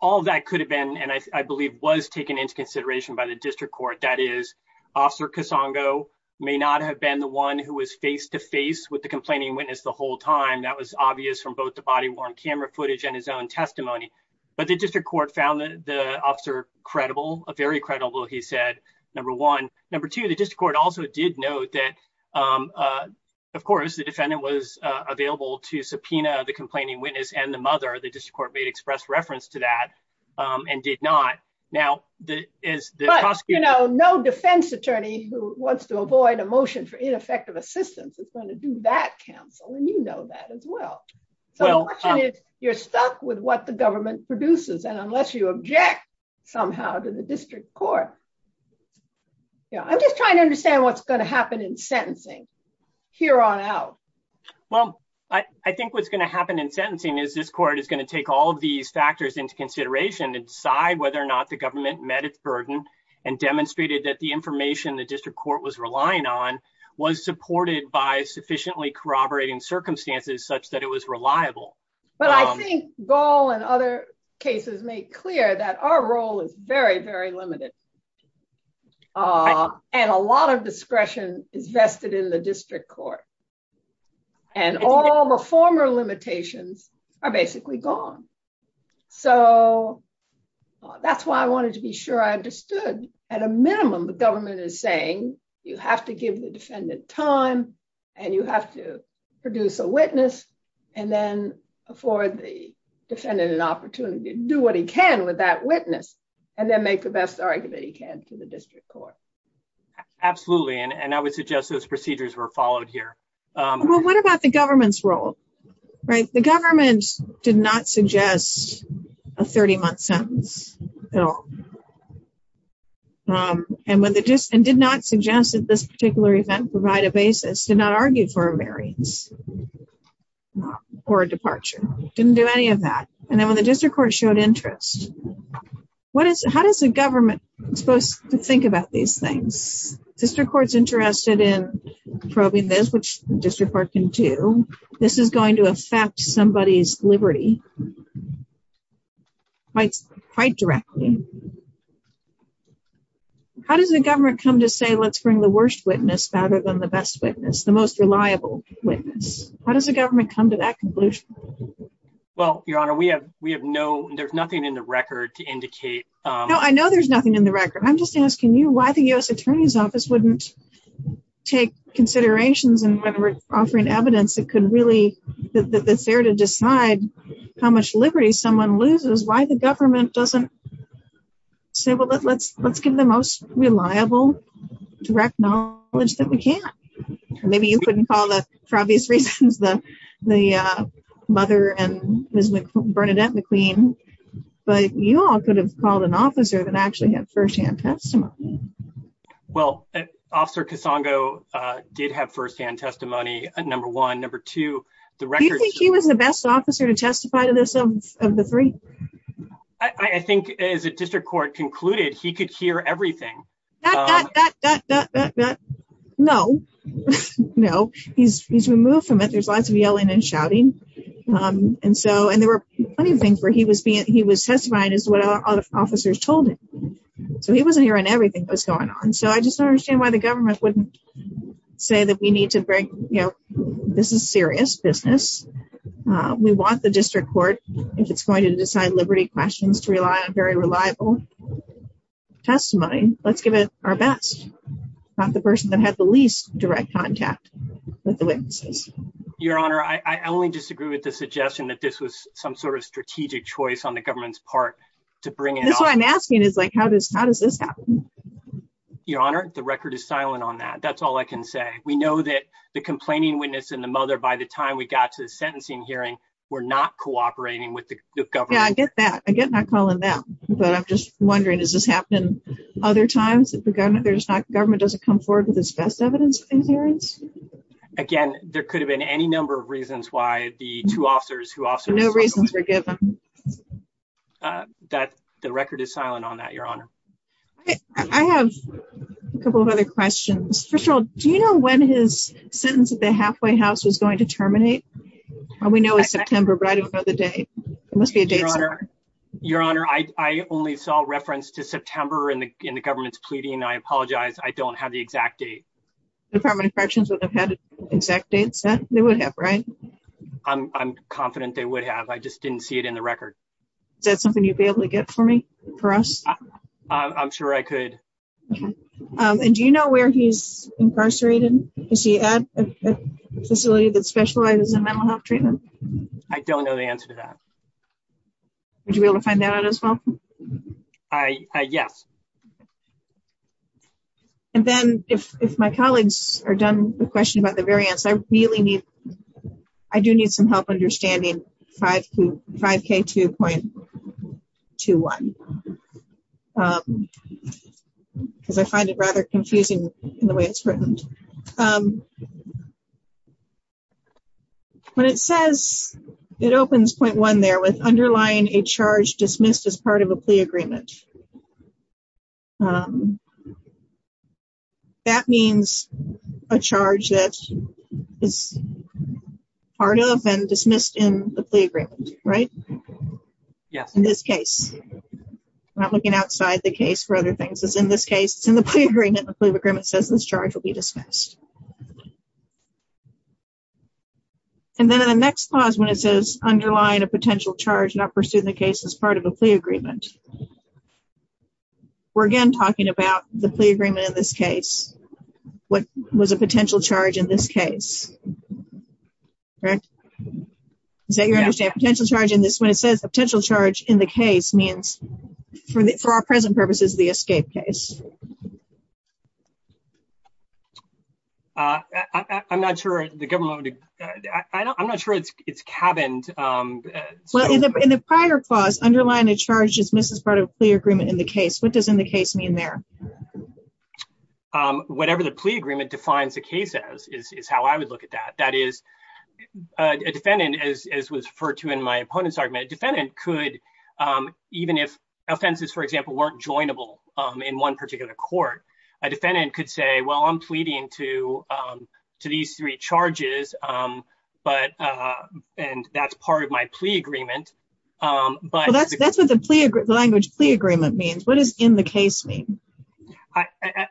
all that could have been, and I believe was taken into consideration by the district court, that is, officer Casongo may not have been the one who was face to face with the complaining witness the whole time. That was obvious from both the body-worn camera footage and his own testimony. But the district court found the officer credible, very credible, he said, number one. Number two, the district court also did note that, of course, the defendant was available to subpoena the complaining witness and the mother. The district court may express reference to that and did not. But no defense attorney who wants to avoid a motion for ineffective assistance is going to do that counsel, and you know that as well. So the question is, you're stuck with what the government produces, and unless you object somehow to the district court. I'm just trying to understand what's going to happen in sentencing, here on out. Well, I think what's going to happen in sentencing is this court is going to take all of these factors into consideration and decide whether or not the government met its burden and demonstrated that the information the district court was relying on was supported by sufficiently corroborating circumstances such that it was reliable. But I think Gall and other cases make clear that our role is very, very limited. And a lot of discretion is vested in the district court. And all the former limitations are basically gone. So that's why I wanted to be sure I understood, at a minimum, the government is saying, you have to give the defendant time, and you have to produce a witness, and then afford the defendant an opportunity to do what he can with that witness, and then make the best argument he can to the district court. Absolutely, and I would suggest those procedures were followed here. Well, what about the government's role? The government did not suggest a 30-month sentence at all, and did not suggest that this particular event provide a basis, did not argue for a marriage or a departure, didn't do any of that. And then when the district court showed interest, how does the government think about these things? District court's interested in probing this, which the district court can too. This is going to affect somebody's liberty quite directly. How does the government come to say, let's bring the worst witness rather than the best witness, the most reliable witness? How does the government come to that conclusion? Well, Your Honor, we have no, there's nothing in the record to indicate... No, I know there's nothing in the record. I'm just asking you why the U.S. Attorney's Office wouldn't take considerations in whether it's offering evidence that could really, that's there to decide how much liberty someone loses, why the government doesn't say, well, let's give the most reliable direct knowledge that we can. Maybe you couldn't call that for obvious reasons, the mother and Mrs. Bernadette McQueen, but you all could have called an officer that actually had first-hand testimony. Well, Officer Casongo did have first-hand testimony, number one. Number two, the record... Do you think he was the best officer to justify this of the three? I think as the district court concluded, he could hear everything. That, that, that, that, that, that, that, no, no, he's removed from it. There's lots of yelling and shouting. And so, and there were plenty of things where he was being, he was testifying as what other officers told him. So he wasn't hearing everything that was going on. So I just don't understand why the government wouldn't say that we need to bring, you know, this is serious business. We want the district court, if it's going to decide liberty questions, to rely on very reliable testimony. Let's give it our best. Not the person that had the least direct contact with the witness. Your Honor, I only disagree with the suggestion that this was some sort of strategic choice on the government's part to bring it up. And all I'm asking is like, how does, how does this happen? Your Honor, the record is silent on that. That's all I can say. We know that the complaining witness and the mother, by the time we got to the sentencing hearing, were not cooperating with the government. Yeah, I get that. I get not calling them. But I'm just wondering, does this happen other times? If the government, there's not, the government doesn't come forward with its best evidence in hearings? Again, there could have been any number of reasons why the two officers who also... No reasons were given. That, the record is silent on that, Your Honor. I have a couple of other questions. First of all, do you know when his sentence at the halfway house is going to terminate? We know it's September, but I don't know the date. It must be a date somewhere. Your Honor, I only saw reference to September in the government's pleading. I apologize. I don't have the exact date. Department of Corrections would have had an exact date set? They would have, right? I'm confident they would have. I just didn't see it in the record. Is that something you'd be able to get for me, for us? I'm sure I could. And do you know where he's incarcerated? Is he at a facility that specializes in mental health treatment? I don't know the answer to that. Would you be able to find that out as well? Yes. And then, if my colleagues are done with the question about the variance, I really need... I do need some help understanding 5K2.21. Because I find it rather confusing in the way it's written. But it says, it opens point one there with underlying a charge dismissed as part of a plea agreement. That means a charge that is part of and dismissed in the plea agreement, right? Yeah. In this case. I'm not looking outside the case for other things. In this case, it's in the plea agreement. The plea agreement says this charge will be dismissed. And then the next clause when it says, underlying a potential charge not pursued in the case as part of a plea agreement. We're again talking about the plea agreement in this case. What was a potential charge in this case? Right? Is that your understanding? A potential charge in this one? It says a potential charge in the case means, for our present purposes, the escape case. I'm not sure the government... I'm not sure it's cabined. In the prior clause, underlying a charge dismissed as part of a plea agreement in the case. What does in the case mean there? Whatever the plea agreement defines the case as, is how I would look at that. That is, a defendant, as was referred to in my opponent's argument, a defendant could, even if offenses, for example, weren't joinable in one particular court, a defendant could say, well, I'm pleading to these three charges. And that's part of my plea agreement. That's what the language plea agreement means. What does in the case mean?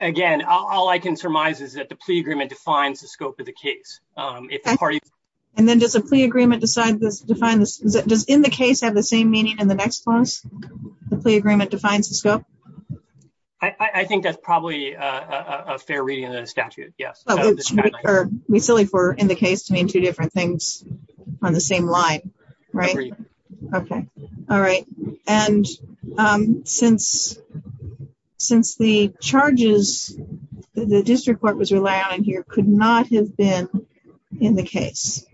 Again, all I can surmise is that the plea agreement defines the scope of the case. And then does the plea agreement define... does in the case have the same meaning in the next clause? The plea agreement defines the scope? I think that's probably a fair reading of the statute. It would be silly for in the case to mean two different things on the same line, right? Okay. All right. And since the charges the district court was relying on here could not have been in the case,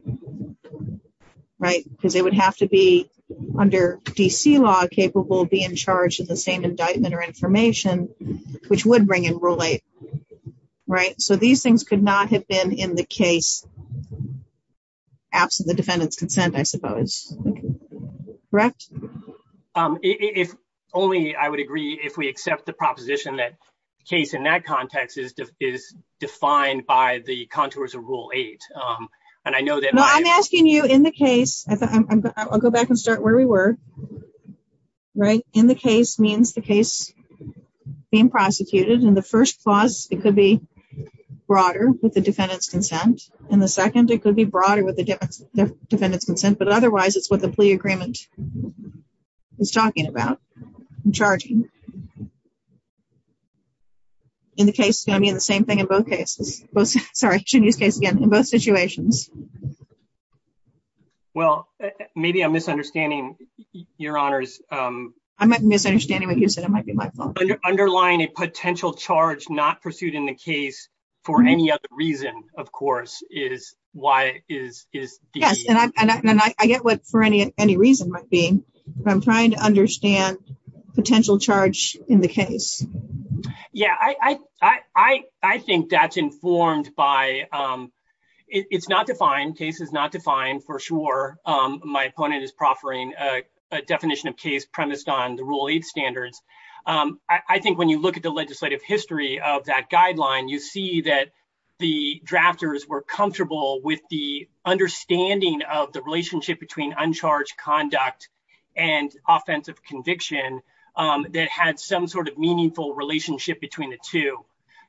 right? Because it would have to be under D.C. law capable of being charged in the same indictment or information, which would bring in Rule 8, right? So these things could not have been in the case after the defendant's consent, I suppose. Correct? If only I would agree if we accept the proposition that case in that context is defined by the contours of Rule 8. I'm asking you in the case... I'll go back and start where we were, right? In the case means the case being prosecuted. In the first clause, it could be broader with the defendant's consent. In the second, it could be broader with the defendant's consent. But otherwise, it's what the plea agreement is talking about. In the case, it's going to be the same thing in both cases. Sorry, excuse me, in both situations. Well, maybe I'm misunderstanding, Your Honors. I'm not misunderstanding what you said. It might be my fault. Underlying a potential charge not pursued in the case for any other reason, of course, is why it is D.C. And I get what for any reason might be, but I'm trying to understand potential charge in the case. Yeah, I think that's informed by... It's not defined. Case is not defined for sure. My opponent is proffering a definition of case premised on the Rule 8 standards. I think when you look at the legislative history of that guideline, you see that the drafters were comfortable with the understanding of the relationship between uncharged conduct and offensive conviction that had some sort of meaningful relationship between the two.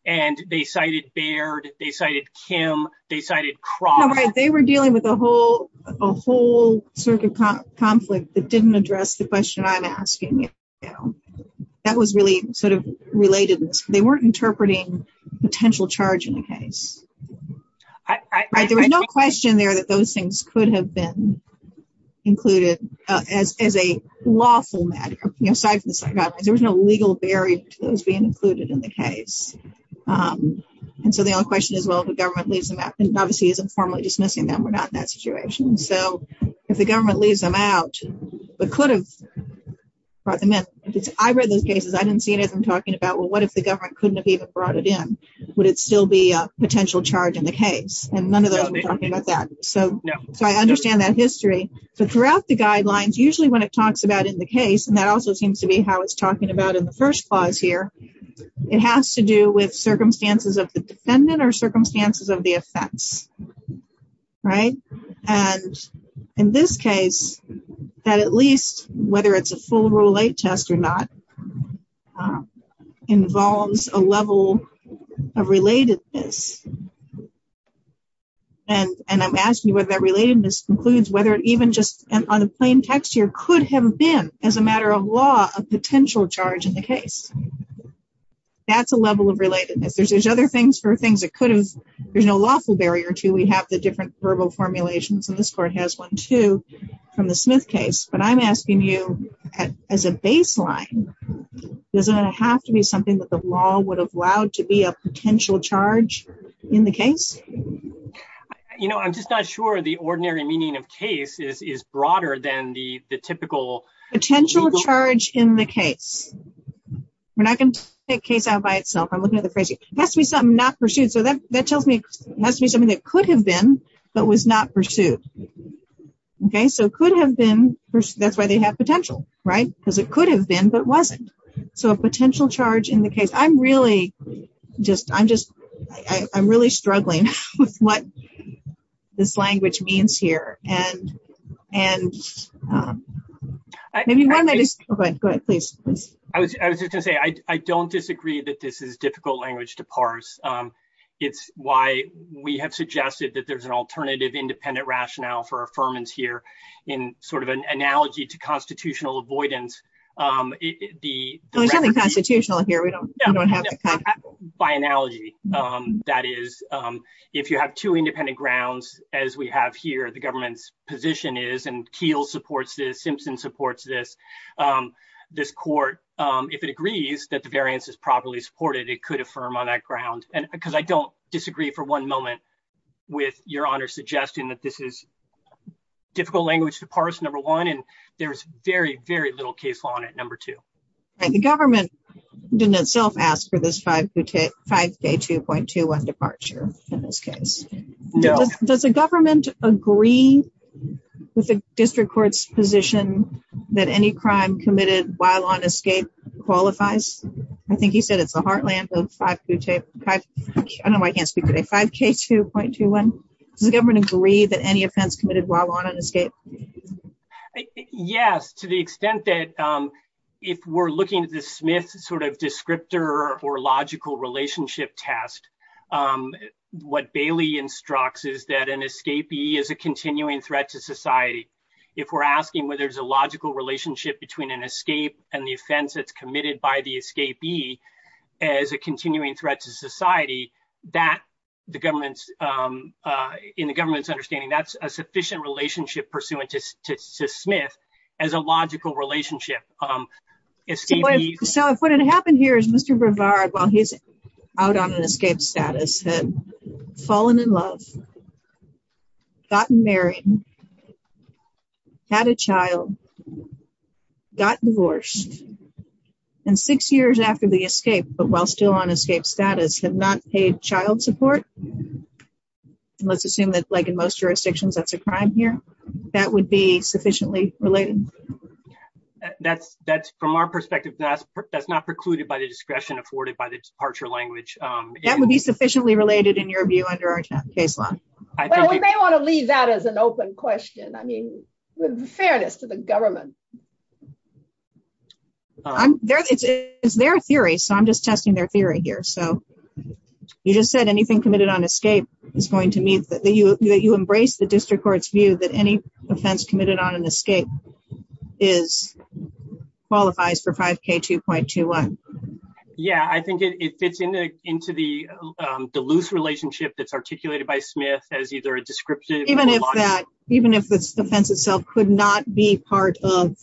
And they cited Baird, they cited Kim, they cited Cross. They were dealing with a whole sort of conflict that didn't address the question I'm asking. That was really sort of related. They weren't interpreting potential charge in the case. There was no question there that those things could have been included as a lawful matter. There was no legal barrier to those being included in the case. And so the only question is, well, if the government leaves them out. Obviously, he's informally dismissing them. We're not in that situation. So if the government leaves them out, we could have brought them in. I read those cases. I didn't see anything talking about, well, what if the government couldn't have even brought it in? Would it still be a potential charge in the case? And none of them are talking about that. So I understand that history. So throughout the guidelines, usually when it talks about in the case, and that also seems to be how it's talking about in the first clause here. It has to do with circumstances of the defendant or circumstances of the offense. Right. And in this case, that at least whether it's a full rule, a test or not, involves a level of relatedness. And I'm asking what that relatedness includes, whether it even just on a plain text here could have been as a matter of law, a potential charge in the case. That's a level of relatedness. There's other things for things that could have been a lawful barrier to. We have the different verbal formulation from this court has one, too, from the Smith case. But I'm asking you, as a baseline, doesn't it have to be something that the law would have allowed to be a potential charge in the case? You know, I'm just not sure the ordinary meaning of case is broader than the typical. Potential charge in the case. We're not going to take case out by itself. I'm looking at the phrase. It has to be something not pursued. So that tells me it must be something that could have been, but was not pursued. OK, so it could have been. That's why they have potential. Right. Because it could have been, but it wasn't. So a potential charge in the case. I'm really just I'm just I'm really struggling with what this language means here. And and I mean, I was just going to say, I don't disagree that this is difficult language to parse. It's why we have suggested that there's an alternative independent rationale for affirmance here in sort of an analogy to constitutional avoidance. The constitutional here, we don't have by analogy. That is, if you have two independent grounds, as we have here, the government's position is and Teal supports the Simpson supports this. This court, if it agrees that the variance is properly supported, it could affirm on that ground. And because I don't disagree for one moment with your honor, suggesting that this is difficult language to parse, number one, and there's very, very little case on it. Number two, the government didn't itself ask for this five to take five. Departure. Does the government agree with the district court's position that any crime committed while on escape qualifies. I think he said it's a heartland of five. I know I can't speak to a 5k 2.21 government agree that any offense committed while on escape. Yes, to the extent that if we're looking at the Smith sort of descriptor or logical relationship test. What Bailey instructs is that an escapee is a continuing threat to society. If we're asking whether there's a logical relationship between an escape and the offense that's committed by the escapee. As a continuing threat to society that the government's in the government's understanding. That's a sufficient relationship pursuant to Smith as a logical relationship. So, what had happened here is Mr. Berger, while he's out on an escape status, fallen in love. Got married. Had a child. Got divorced. And six years after the escape, but while still on escape status have not paid child support. Let's assume that's like in most jurisdictions that's a crime here that would be sufficiently related. That's that's from our perspective. That's not precluded by the discretion afforded by the departure language. That would be sufficiently related in your view under our case law. We may want to leave that as an open question. I mean, with fairness to the government. It's their theory, so I'm just testing their theory here. So, you just said anything committed on escape is going to mean that you embrace the district court's view that any offense committed on an escape qualifies for 5K 2.21. Yeah, I think it fits into the loose relationship that's articulated by Smith as either a descriptive. Even if the offense itself could not be part of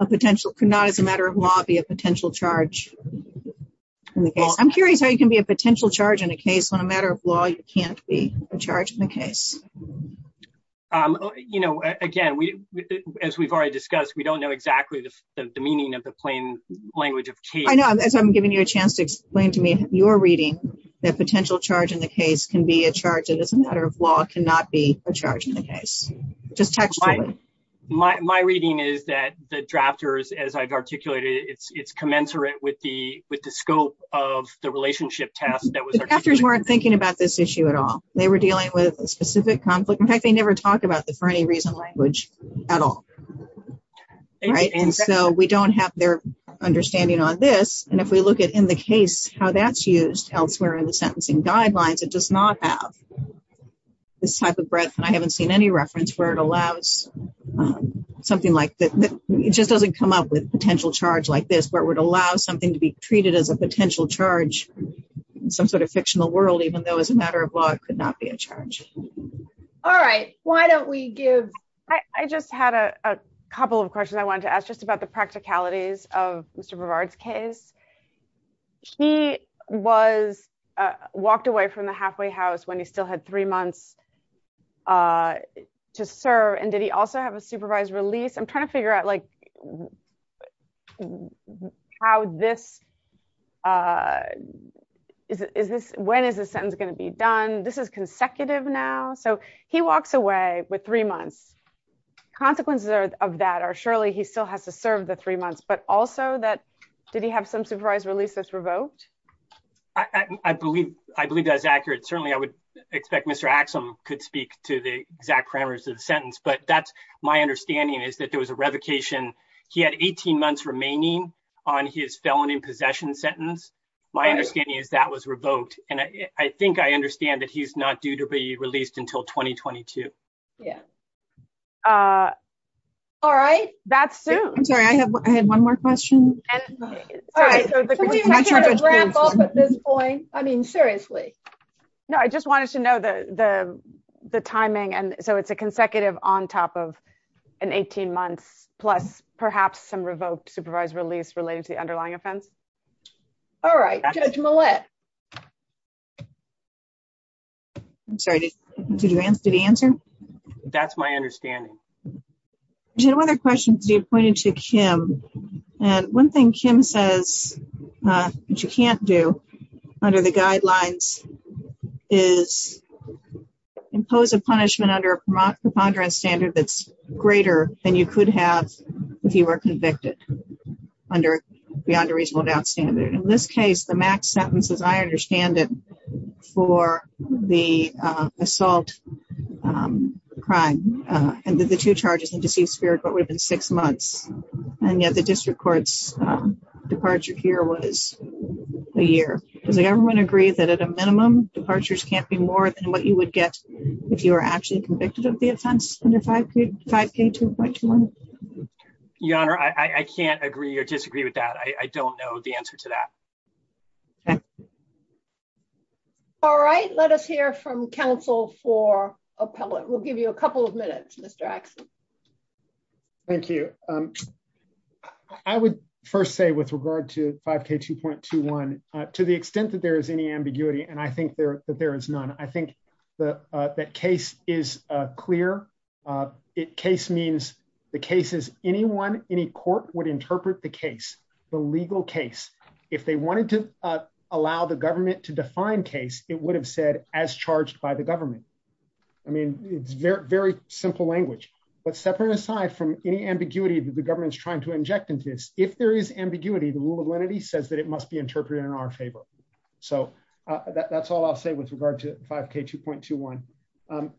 a potential could not, as a matter of law, be a potential charge. I'm curious how you can be a potential charge in a case when a matter of law can't be a charge in the case. You know, again, as we've already discussed, we don't know exactly the meaning of the plain language. I know as I'm giving you a chance to explain to me your reading that potential charge in the case can be a charge as a matter of law cannot be a charge in the case. My reading is that the drafters, as I've articulated, it's commensurate with the with the scope of the relationship test. The drafters weren't thinking about this issue at all. They were dealing with a specific conflict. In fact, they never talked about the for any reason language at all. So, we don't have their understanding on this. And if we look at in the case, how that's used elsewhere in the sentencing guidelines, it does not have this type of breadth. I haven't seen any reference where it allows something like this. It just doesn't come up with potential charge like this, where it would allow something to be treated as a potential charge. Some sort of fictional world, even though as a matter of law, it could not be a charge. All right. Why don't we give I just had a couple of questions I want to ask just about the practicalities of Mr. When he still had three months to serve. And did he also have a supervised release? I'm trying to figure out, like, how this is. When is this sentence going to be done? This is consecutive now. So he walks away with three months. Consequences of that are surely he still has to serve the three months. But also that did he have some supervised releases revoked? I believe I believe that is accurate. Certainly, I would expect Mr. Axel could speak to the exact parameters of the sentence. But that's my understanding is that there was a revocation. He had 18 months remaining on his felony possession sentence. My understanding is that was revoked. And I think I understand that he's not due to be released until 2022. Yeah. All right. That's it. I have one more question. All right. At this point, I mean, seriously. No, I just wanted to know the the timing. And so it's a consecutive on top of an 18 month plus perhaps some revoked supervised release relating to the underlying offense. All right. I'm sorry. The answer. That's my understanding. I wonder questions you pointed to, Kim. And one thing Kim says she can't do under the guidelines is impose a punishment under the standard that's greater than you could have if you were convicted under the under reasonable doubt standard. In this case, the max sentence, as I understand it, for the assault crime. And there's a two charges in deceased spirit, but within six months. And yet the district court's departure here was a year. Does everyone agree that at a minimum, departures can't be more than what you would get if you were actually convicted of the offense? I can't agree or disagree with that. I don't know the answer to that. All right. Let us hear from counsel for appellate. We'll give you a couple of minutes. Mr. Thank you. I would first say with regard to 5k 2.21 to the extent that there is any ambiguity. And I think that there is none. I think that that case is clear. It case means the cases. Anyone, any court would interpret the case for legal case. If they wanted to allow the government to define case, it would have said as charged by the government. I mean, it's very simple language, but separate aside from any ambiguity that the government's trying to inject into this. If there is ambiguity, the rule of lenity says that it must be interpreted in our favor. So that's all I'll say with regard to 5k 2.21.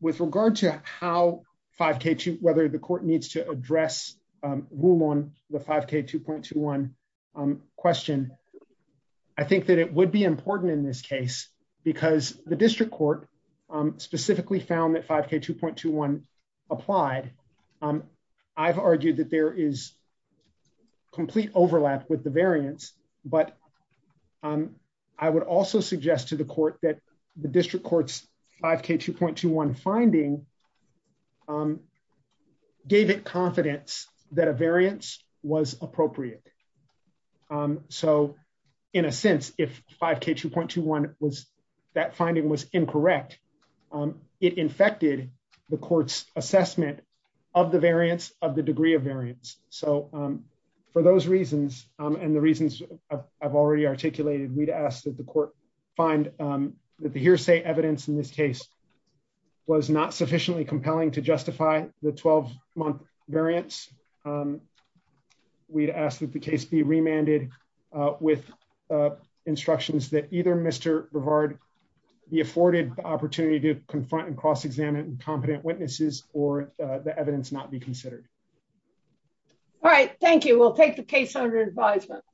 With regard to how 5k two, whether the court needs to address room on the 5k 2.21 question. I think that it would be important in this case because the district court specifically found that 5k 2.21 applied. I've argued that there is complete overlap with the variance, but I would also suggest to the court that the district courts 5k 2.21 finding gave it confidence that a variance was appropriate. So in a sense, if 5k 2.21 was that finding was incorrect, it infected the court's assessment of the variance of the degree of variance. So for those reasons and the reasons I've already articulated me to ask that the court find that the hearsay evidence in this case was not sufficiently compelling to justify the 12 month variance. We'd ask that the case be remanded with instructions that either Mr. Brevard, the afforded opportunity to confront and cross examine and competent witnesses or the evidence not be considered. All right. Thank you. We'll take the case under advisement.